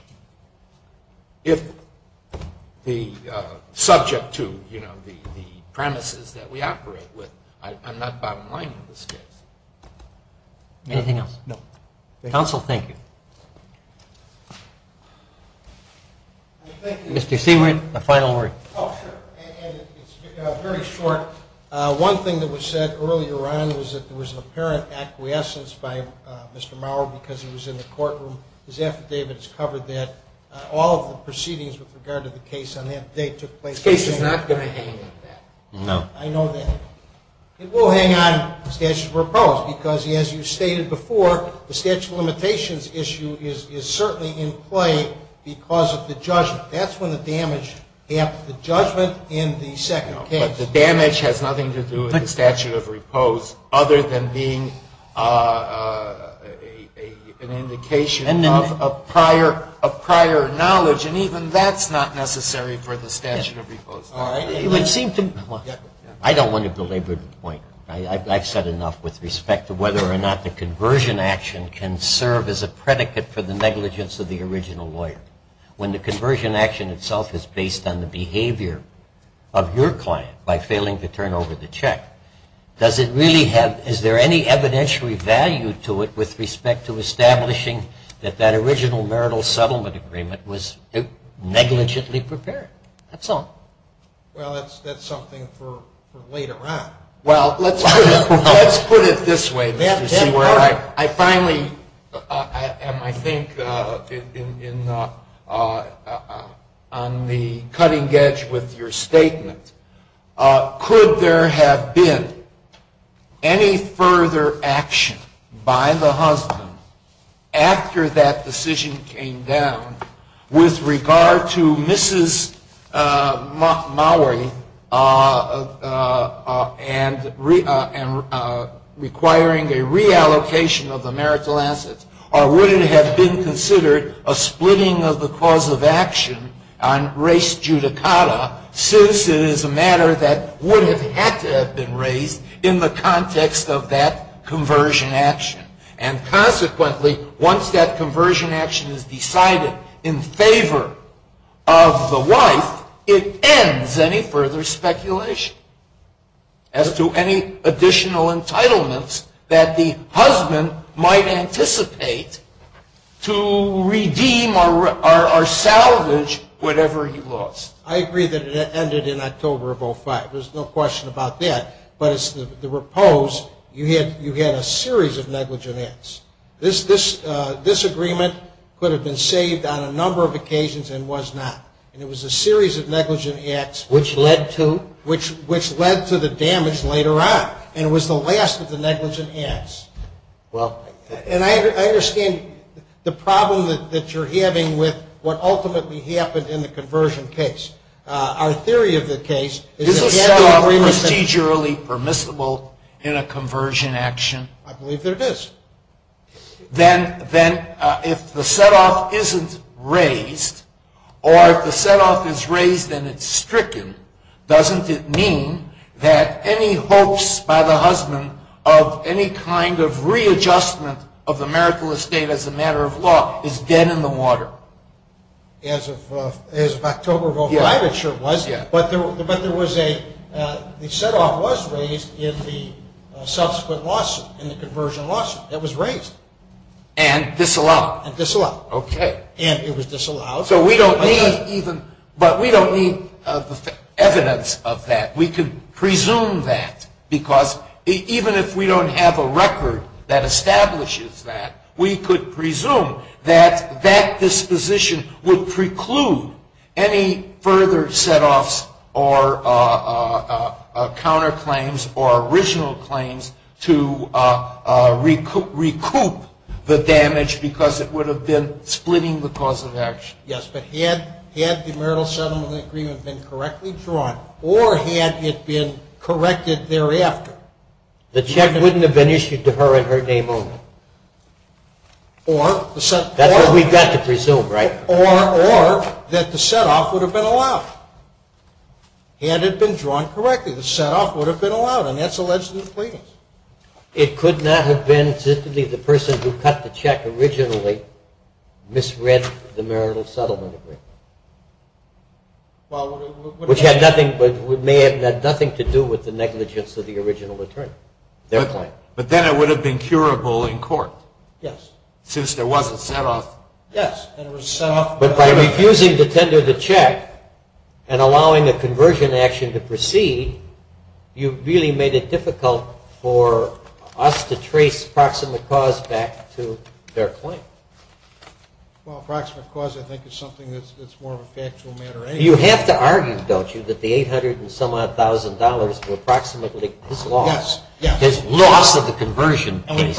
subject to the premises that we operate with. I'm not bottom line in this case. Anything else? No. Counsel, thank you. Mr. Seabright, a final word. Oh, sure. And it's very short. One thing that was said earlier on was that there was an apparent acquiescence by Mr. Mauer because he was in the courtroom. His affidavit has covered that. All of the proceedings with regard to the case on that date took place in Maui. This case is not going to hang on that. No. I know that. It will hang on statutes of repose because, as you stated before, the statute of limitations issue is certainly in play because of the judgment. That's when the damage happened, the judgment in the second case. The damage has nothing to do with the statute of repose other than being an indication of prior knowledge. And even that's not necessary for the statute of repose. All right. I don't want to belabor the point. I've said enough with respect to whether or not the conversion action can serve as a predicate for the negligence of the original lawyer. When the conversion action itself is based on the behavior of your client by failing to turn over the check, is there any evidentiary value to it with respect to establishing that that original marital settlement agreement was negligently prepared? That's all. Well, that's something for later on. Well, let's put it this way, Mr. Seward. I finally am, I think, on the cutting edge with your statement. Could there have been any further action by the husband after that decision came down with regard to Mrs. Mowery requiring a reallocation of the marital assets? Or would it have been considered a splitting of the cause of action on race judicata since it is a matter that would have had to have been raised in the context of that conversion action? And consequently, once that conversion action is decided, in favor of the wife, it ends any further speculation as to any additional entitlements that the husband might anticipate to redeem or salvage whatever he lost. I agree that it ended in October of 05. There's no question about that. But as to the repose, you had a series of negligence. This agreement could have been saved on a number of occasions and was not. And it was a series of negligent acts, which led to? Which led to the damage later on. And it was the last of the negligent acts. And I understand the problem that you're having with what ultimately happened in the conversion case. Our theory of the case is that we have the agreement. Is this set up procedurally permissible in a conversion action? I believe that it is. Then if the set off isn't raised, or if the set off is raised and it's stricken, doesn't it mean that any hopes by the husband of any kind of readjustment of the marital estate as a matter of law is dead in the water? As of October of 05, it sure was. But the set off was raised in the subsequent lawsuit, in the conversion lawsuit. It was raised. And disallowed? And disallowed. And it was disallowed. But we don't need evidence of that. We could presume that. Because even if we don't have a record that establishes that, we could presume that that disposition would preclude any further set offs, or counterclaims, or original claims to recoup the damage, because it would have been splitting the cause of action. Yes, but had the marital settlement agreement been correctly drawn, or had it been corrected thereafter? The check wouldn't have been issued to her in her name only. Or the set off. That's what we've got to presume, right? Or that the set off would have been allowed. Had it been drawn correctly, the set off would have been allowed. And that's alleged in the pleadings. It could not have been simply the person who cut the check originally misread the marital settlement agreement, which may have had nothing to do with the negligence of the original attorney, their claim. But then it would have been curable in court. Yes. Since there was a set off. Yes. But by refusing to tender the check, and allowing a conversion action to proceed, you've really made it difficult for us to trace proximate cause back to their claim. Well, approximate cause, I think, is something that's more of a factual matter anyway. You have to argue, don't you, that the $800,000 were approximately his loss. His loss of the conversion case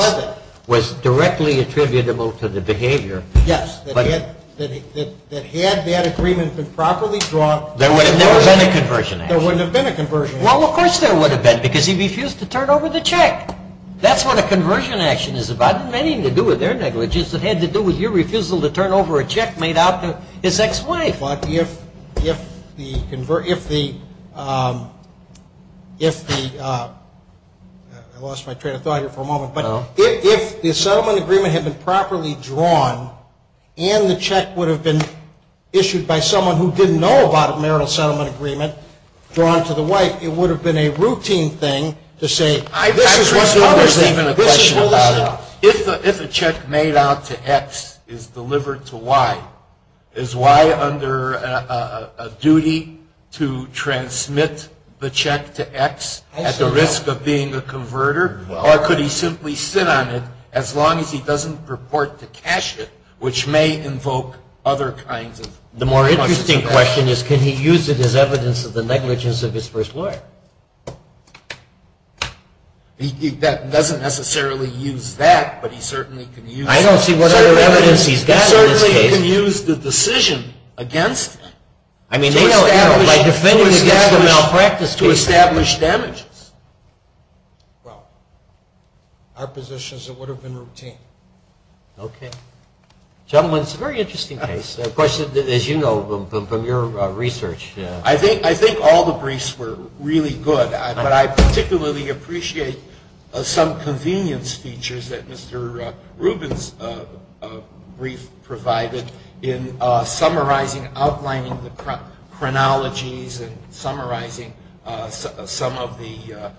was directly attributable to the behavior. Yes. That had that agreement been properly drawn. There would have never been a conversion. There wouldn't have been a conversion. Well, of course there would have been, because he refused to turn over the check. That's what a conversion action is about. It didn't have anything to do with their negligence. It had to do with your refusal to turn over a check made out to his ex-wife. here for a moment. But if the settlement agreement had been properly drawn, and the check would have been issued by someone who didn't know about a marital settlement agreement drawn to the wife, it would have been a routine thing to say, this is what's happening. I presume there's even a question about it. If a check made out to X is delivered to Y, is Y under a duty to transmit the check to X at the risk of being a converter? Or could he simply sit on it as long as he doesn't purport to cash it, which may invoke other kinds of questions. The more interesting question is, could he use it as evidence of the negligence of his first lawyer? He doesn't necessarily use that, but he certainly can use it. I don't see what other evidence he's got in this case. He certainly can use the decision against him by defending against a malpractice case. Establish damages. Well, our position is it would have been routine. OK. Gentlemen, it's a very interesting case. Of course, as you know from your research. I think all the briefs were really good, but I particularly appreciate some convenience features that Mr. Rubin's brief provided in summarizing, outlining the chronologies and summarizing some of the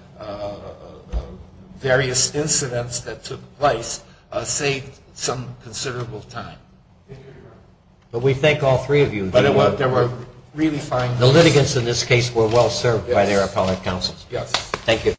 various incidents that took place saved some considerable time. But we thank all three of you. There were really fine. The litigants in this case were well-served by their appellate counsels. Yes. Thank you.